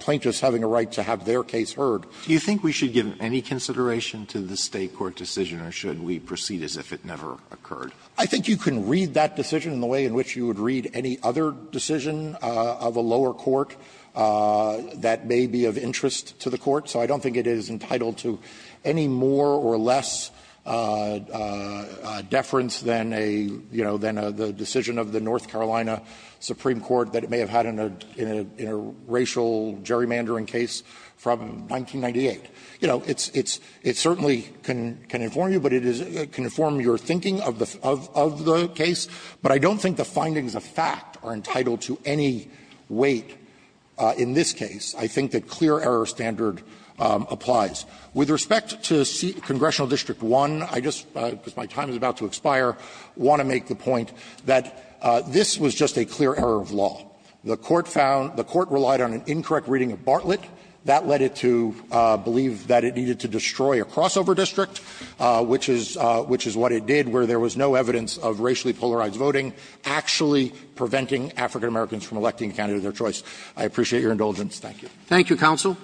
plaintiffs having a right to have their case heard. Alitoso, do you think we should give any consideration to the State court decision, or should we proceed as if it never occurred? I think you can read that decision in the way in which you would read any other decision of a lower court that may be of interest to the court, so I don't think it is entitled to any more or less deference than a, you know, than a decision of the North Carolina Supreme Court that it may have had in a, in a racial gerrymandering case from 1998. You know, it's, it's, it certainly can, can inform you, but it is, can inform your thinking of the, of the case, but I don't think the findings of fact are entitled to any weight in this case. I think that clear error standard applies. With respect to congressional district 1, I just, because my time is about to expire, want to make the point that this was just a clear error of law. The court found, the court relied on an incorrect reading of Bartlett. That led it to believe that it needed to destroy a crossover district, which is, which is what it did, where there was no evidence of racially polarized voting actually preventing African-Americans from electing a candidate of their choice. I appreciate your indulgence. Thank you. Thank you, counsel.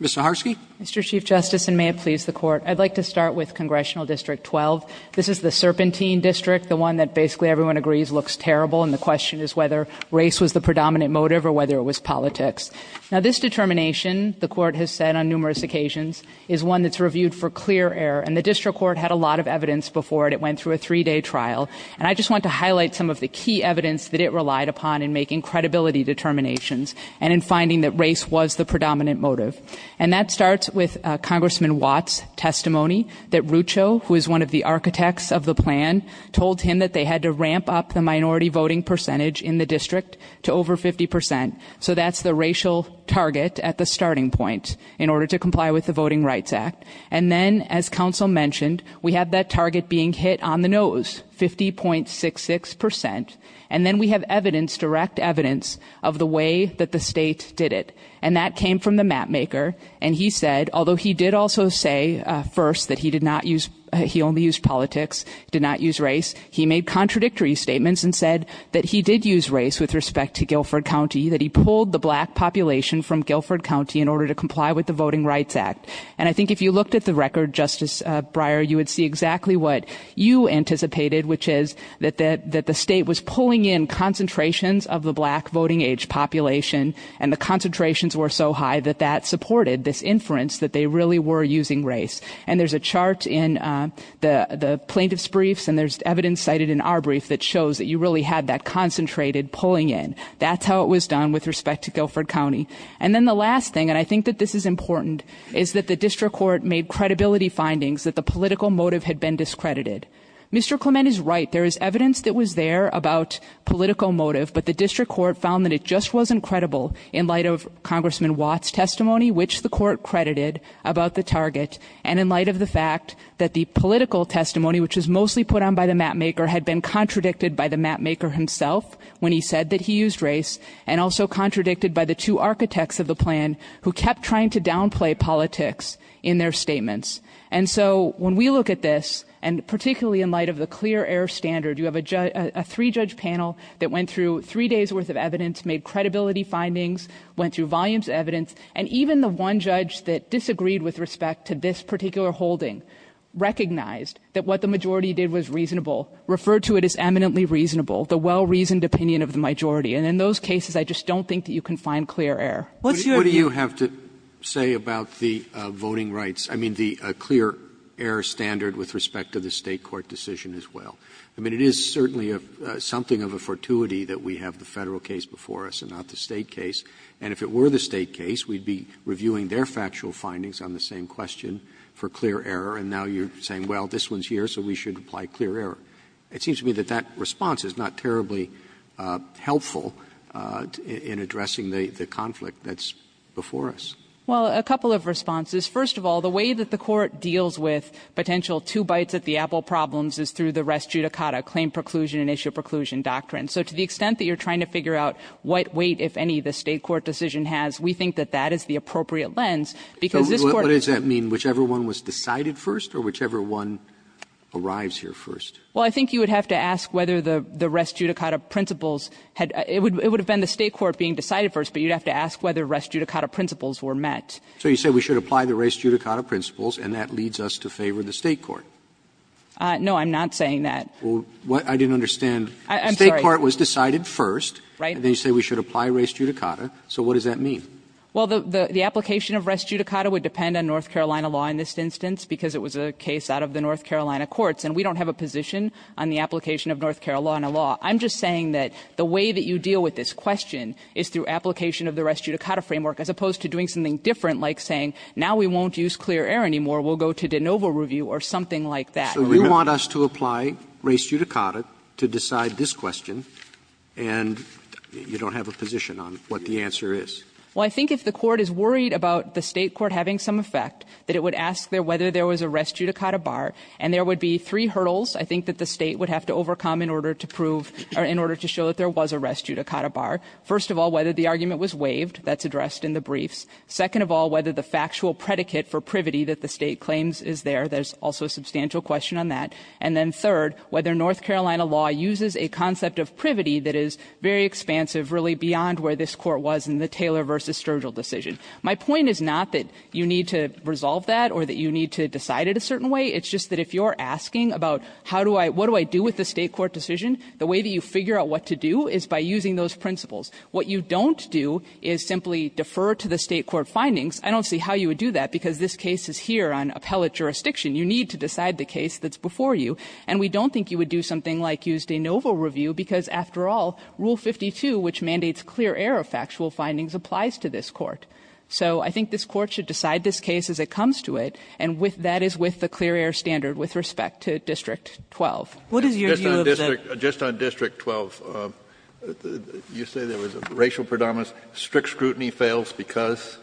Ms. Zaharsky. Mr. Chief Justice, and may it please the court. I'd like to start with congressional district 12. This is the serpentine district, the one that basically everyone agrees looks terrible, and the question is whether race was the predominant motive or whether it was politics. Now this determination, the court has said on numerous occasions, is one that's reviewed for clear error. And the district court had a lot of evidence before it. It went through a three day trial. And I just want to highlight some of the key evidence that it relied upon in making credibility determinations. And in finding that race was the predominant motive. And that starts with Congressman Watt's testimony that Rucho, who is one of the architects of the plan, told him that they had to ramp up the minority voting percentage in the district to over 50%. So that's the racial target at the starting point in order to comply with the Voting Rights Act. And then, as counsel mentioned, we have that target being hit on the nose, 50.66%. And then we have evidence, direct evidence, of the way that the state did it. And that came from the map maker. And he said, although he did also say first that he only used politics, did not use race. He made contradictory statements and said that he did use race with respect to Guilford County. That he pulled the black population from Guilford County in order to comply with the Voting Rights Act. And I think if you looked at the record, Justice Breyer, you would see exactly what you anticipated, which is that the state was pulling in concentrations of the black voting age population. And the concentrations were so high that that supported this inference that they really were using race. And there's a chart in the plaintiff's briefs and there's evidence cited in our brief that shows that you really had that concentrated pulling in. That's how it was done with respect to Guilford County. And then the last thing, and I think that this is important, is that the district court made credibility findings that the political motive had been discredited. Mr. Clement is right. There is evidence that was there about political motive, but the district court found that it just wasn't credible in light of Congressman Watt's testimony, which the court credited about the target. And in light of the fact that the political testimony, which was mostly put on by the mapmaker, had been contradicted by the mapmaker himself when he said that he used race. And also contradicted by the two architects of the plan who kept trying to downplay politics in their statements. And so when we look at this, and particularly in light of the clear air standard, you have a three-judge panel that went through three days' worth of evidence, made credibility findings, went through volumes of evidence. And even the one judge that disagreed with respect to this particular holding recognized that what the majority did was reasonable. Referred to it as eminently reasonable, the well-reasoned opinion of the majority. And in those cases, I just don't think that you can find clear air. What's your view- Roberts. What do you have to say about the voting rights? I mean, the clear air standard with respect to the State court decision as well. I mean, it is certainly something of a fortuity that we have the Federal case before us and not the State case. And if it were the State case, we'd be reviewing their factual findings on the same question for clear air, and now you're saying, well, this one's here, so we should apply clear air. It seems to me that that response is not terribly helpful in addressing the conflict that's before us. Well, a couple of responses. I mean, I don't think that you can find a clear air standard with respect to the State court decision as well. I mean, it is certainly something of a fortuity that we have the Federal case before us and not the State case. question for clear air, and now you're saying, well, this one's here, so we should apply clear air. It seems to me that that response is not terribly helpful in addressing the conflict that's before us. No, I'm not saying that. Well, I didn't understand. State court was decided first, and then you say we should apply res judicata. So what does that mean? Well, the application of res judicata would depend on North Carolina law in this instance, because it was a case out of the North Carolina courts, and we don't have a position on the application of North Carolina law. I'm just saying that the way that you deal with this question is through application of the res judicata framework, as opposed to doing something different, like saying, now we won't use clear air anymore, we'll go to de novo review or something like that. So you want us to apply res judicata to decide this question, and you don't have a position on what the answer is? Well, I think if the Court is worried about the State court having some effect, that it would ask whether there was a res judicata bar, and there would be three hurdles I think that the State would have to overcome in order to prove or in order to show that there was a res judicata bar. First of all, whether the argument was waived, that's addressed in the briefs. Second of all, whether the factual predicate for privity that the State claims is there, there's also a substantial question on that. And then third, whether North Carolina law uses a concept of privity that is very expansive, really beyond where this Court was in the Taylor v. Sturgill decision. My point is not that you need to resolve that or that you need to decide it a certain way. It's just that if you're asking about how do I do with the State court decision, the way that you figure out what to do is by using those principles. What you don't do is simply defer to the State court findings. I don't see how you would do that, because this case is here on appellate jurisdiction. You need to decide the case that's before you. And we don't think you would do something like use de novo review, because after all, Rule 52, which mandates clear air of factual findings, applies to this Court. So I think this Court should decide this case as it comes to it, and with that is with the clear air standard with respect to District 12. What is your view of the Just on District 12, you say there was a racial predominance. Strict scrutiny fails because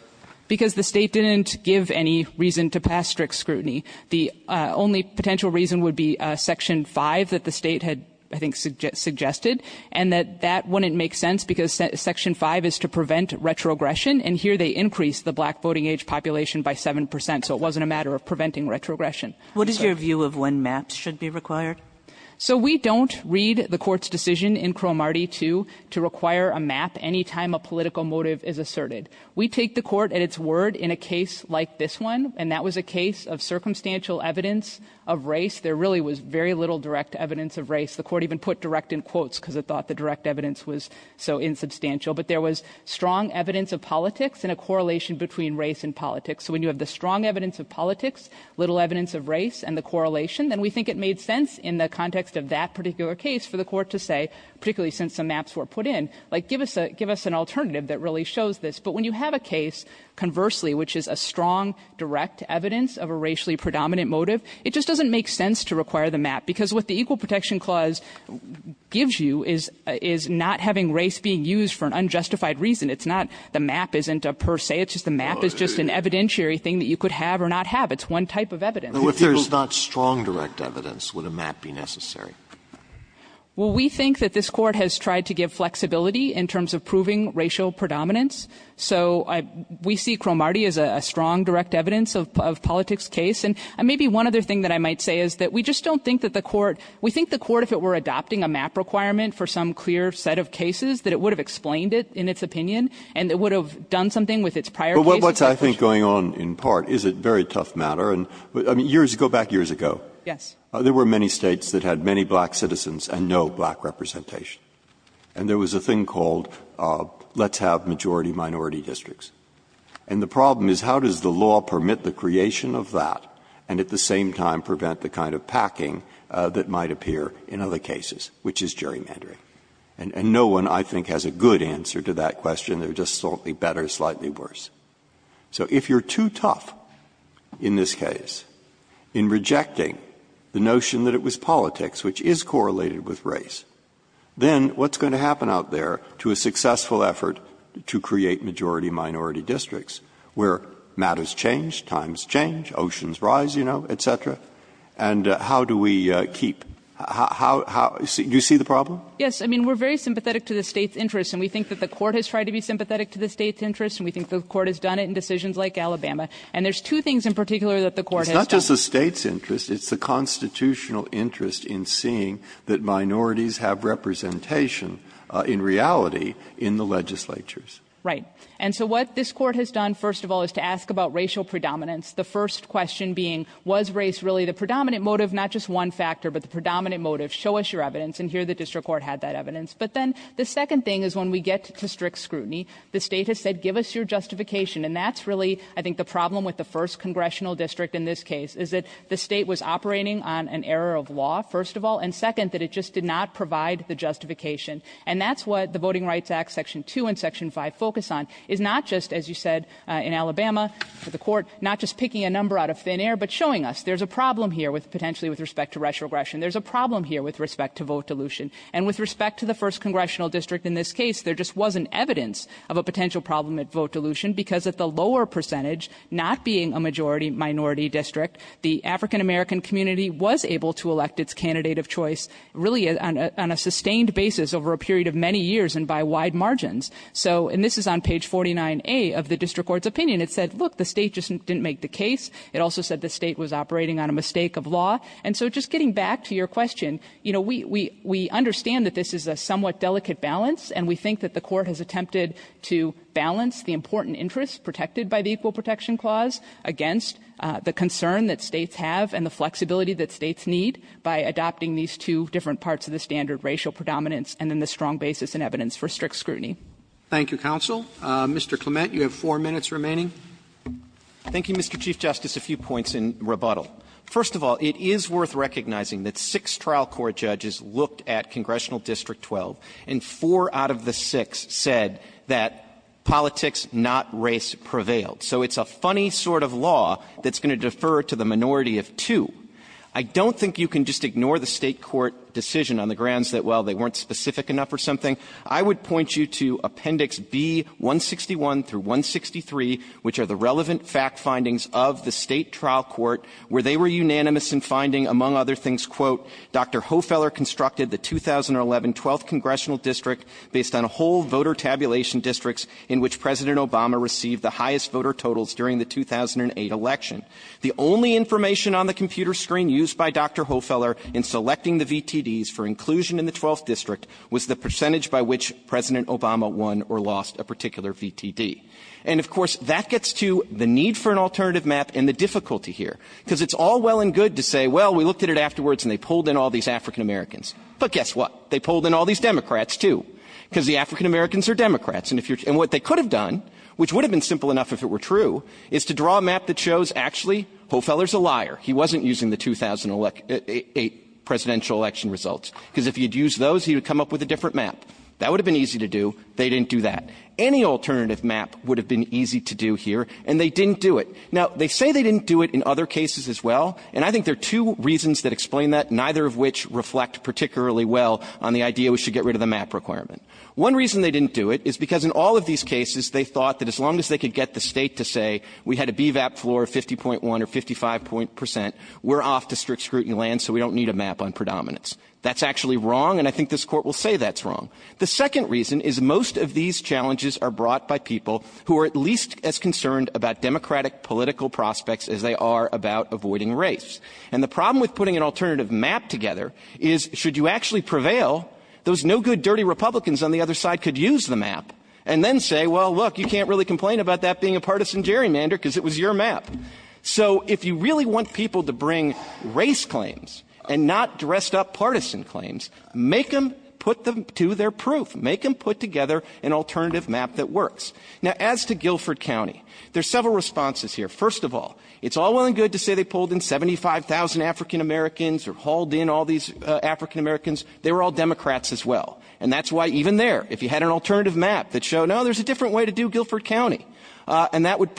Because the State didn't give any reason to pass strict scrutiny. The only potential reason would be Section 5 that the State had, I think, suggested, and that that wouldn't make sense, because Section 5 is to prevent retrogression, and here they increased the black voting age population by 7 percent, so it wasn't a matter of preventing retrogression. What is your view of when maps should be required? So we don't read the Court's decision in Cro-Marty 2 to require a map any time a political motive is asserted. We take the Court at its word in a case like this one, and that was a case of circumstantial evidence of race. There really was very little direct evidence of race. The Court even put direct in quotes, because it thought the direct evidence was so insubstantial. But there was strong evidence of politics and a correlation between race and politics. So when you have the strong evidence of politics, little evidence of race and the correlation, then we think it made sense in the context of that particular case for the Court to say, particularly since the maps were put in, like give us an alternative that really shows this. But when you have a case, conversely, which is a strong, direct evidence of a racially predominant motive, it just doesn't make sense to require the map. Because what the Equal Protection Clause gives you is not having race being used for an unjustified reason. It's not the map isn't a per se. It's just the map is just an evidentiary thing that you could have or not have. It's one type of evidence. If there's not strong, direct evidence, would a map be necessary? Well, we think that this Court has tried to give flexibility in terms of proving racial predominance. So we see Cromartie as a strong, direct evidence of politics case. And maybe one other thing that I might say is that we just don't think that the Court, we think the Court, if it were adopting a map requirement for some clear set of cases, that it would have explained it in its opinion. And it would have done something with its prior cases. But what's I think going on in part is a very tough matter. And years ago, back years ago, there were many States that had many black citizens and no black representation. And there was a thing called let's have majority minority districts. And the problem is how does the law permit the creation of that and at the same time prevent the kind of packing that might appear in other cases, which is gerrymandering? And no one, I think, has a good answer to that question. They're just slightly better, slightly worse. So if you're too tough in this case in rejecting the notion that it was politics, which is correlated with race, then what's going to happen out there to a successful effort to create majority minority districts where matters change, times change, oceans rise, you know, et cetera, and how do we keep how do you see the problem? Yes. I mean, we're very sympathetic to the State's interest. And we think that the Court has tried to be sympathetic to the State's interest. And we think the Court has done it in decisions like Alabama. And there's two things in particular that the Court has done. It's not just the State's interest. It's the Constitutional interest in seeing that minorities have representation in reality in the legislatures. Right. And so what this Court has done, first of all, is to ask about racial predominance. The first question being, was race really the predominant motive? Not just one factor, but the predominant motive. Show us your evidence. And here the District Court had that evidence. But then the second thing is when we get to strict scrutiny, the State has said, give us your justification. And that's really, I think, the problem with the first congressional district in this case, is that the State was operating on an error of law, first of all, and second, that it just did not provide the justification. And that's what the Voting Rights Act, Section 2 and Section 5 focus on, is not just, as you said, in Alabama, the Court not just picking a number out of thin air, but showing us there's a problem here potentially with respect to racial aggression. There's a problem here with respect to vote dilution. And with respect to the first congressional district in this case, there just wasn't evidence of a potential problem at vote dilution, because at the lower percentage, not being a majority minority district, the African-American community was able to elect its candidate of choice, really on a sustained basis over a period of many years and by wide margins. So, and this is on page 49A of the District Court's opinion. It said, look, the State just didn't make the case. It also said the State was operating on a mistake of law. And so just getting back to your question, you know, we understand that this is a somewhat delicate balance, and we think that the Court has attempted to balance the important interests protected by the Equal Protection Clause against the concern that States have and the flexibility that States need by adopting these two different parts of the standard racial predominance and then the strong basis and evidence for strict scrutiny. Roberts. Thank you, counsel. Mr. Clement, you have four minutes remaining. Clement. Thank you, Mr. Chief Justice. A few points in rebuttal. First of all, it is worth recognizing that six trial court judges looked at Congressional District 12, and four out of the six said that politics, not race, prevailed. So it's a funny sort of law that's going to defer to the minority of two. I don't think you can just ignore the State court decision on the grounds that, well, they weren't specific enough or something. I would point you to Appendix B-161 through 163, which are the relevant fact findings of the State trial court where they were unanimous in finding, among other things, quote, Dr. Hofeller constructed the 2011 12th Congressional District based on a whole voter tabulation districts in which President Obama received the highest voter totals during the 2008 election. The only information on the computer screen used by Dr. Hofeller in selecting the VTDs for inclusion in the 12th District was the percentage by which President Obama won or lost a particular VTD. And, of course, that gets to the need for an alternative map and the difficulty here, because it's all well and good to say, well, we looked at it afterwards and they pulled in all these African-Americans. But guess what? They pulled in all these Democrats, too, because the African-Americans are Democrats. And what they could have done, which would have been simple enough if it were true, is to draw a map that shows, actually, Hofeller's a liar. He wasn't using the 2008 presidential election results, because if he had used those, he would have come up with a different map. That would have been easy to do. They didn't do that. Any alternative map would have been easy to do here, and they didn't do it. Now, they say they didn't do it in other cases as well, and I think there are two reasons that explain that, neither of which reflect particularly well on the idea we should get rid of the map requirement. One reason they didn't do it is because in all of these cases, they thought that as long as they could get the State to say we had a BVAP floor of 50.1 or 55 percent, we're off to strict scrutiny land, so we don't need a map on predominance. That's actually wrong, and I think this Court will say that's wrong. The second reason is most of these challenges are brought by people who are at least as concerned about Democratic political prospects as they are about avoiding race. And the problem with putting an alternative map together is should you actually prevail, those no-good, dirty Republicans on the other side could use the map and then say, well, look, you can't really complain about that being a partisan gerrymander because it was your map. So if you really want people to bring race claims and not dressed-up partisan claims, make them put them to their proof. Make them put together an alternative map that works. Now, as to Guilford County, there's several responses here. First of all, it's all well and good to say they pulled in 75,000 African-Americans or hauled in all these African-Americans. They were all Democrats as well. And that's why even there, if you had an alternative map that showed, no, there's a different way to do Guilford County, and that would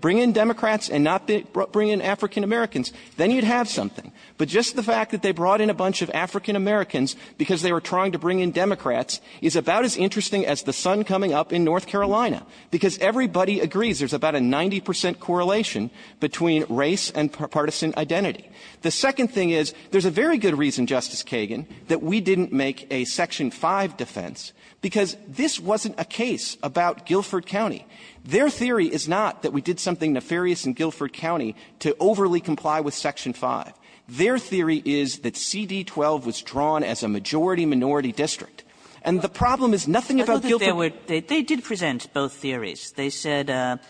bring in Democrats and not bring in African-Americans, then you'd have something. But just the fact that they brought in a bunch of African-Americans because they were trying to bring in Democrats is about as interesting as the sun coming up in North Carolina, because everybody agrees there's about a 90 percent correlation between race and partisan identity. The second thing is, there's a very good reason, Justice Kagan, that we didn't make a Section 5 defense, because this wasn't a case about Guilford County. Their theory is not that we did something nefarious in Guilford County to overly comply with Section 5. Their theory is that CD12 was drawn as a majority-minority district. And the problem is nothing about Guilford County. Kagan. They did present both theories. They said,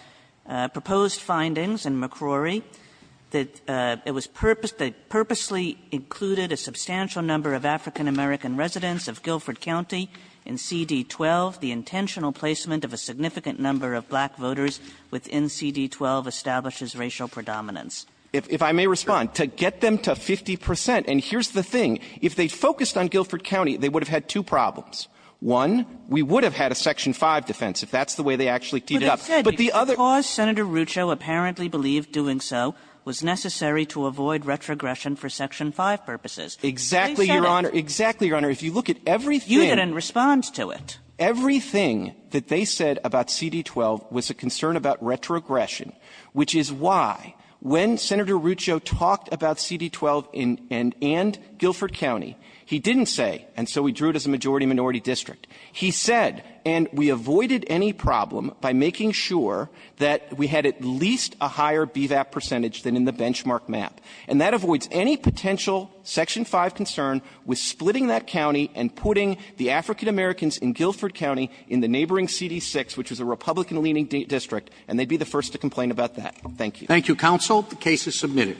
proposed findings in McCrory that it was purposed to purposely included a substantial number of African-American residents of Guilford County in CD12. The intentional placement of a significant number of black voters within CD12 establishes racial predominance. If I may respond, to get them to 50 percent, and here's the thing, if they focused on Guilford County, they would have had two problems. One, we would have had a Section 5 defense, if that's the way they actually teed it up. But the other ---- But it said because Senator Rucho apparently believed doing so was necessary to avoid retrogression for Section 5 purposes. Exactly, Your Honor. Exactly, Your Honor. If you look at everything ---- You didn't respond to it. Everything that they said about CD12 was a concern about retrogression, which is why, when Senator Rucho talked about CD12 and Guilford County, he didn't say, and so we drew it as a majority-minority district, he said, and we avoided any problem by making sure that we had at least a higher BVAP percentage than in the benchmark map. And that avoids any potential Section 5 concern with splitting that county and putting the African-Americans in Guilford County in the neighboring CD6, which was a Republican-leaning district, and they'd be the first to complain about that. Thank you. Thank you, counsel. The case is submitted.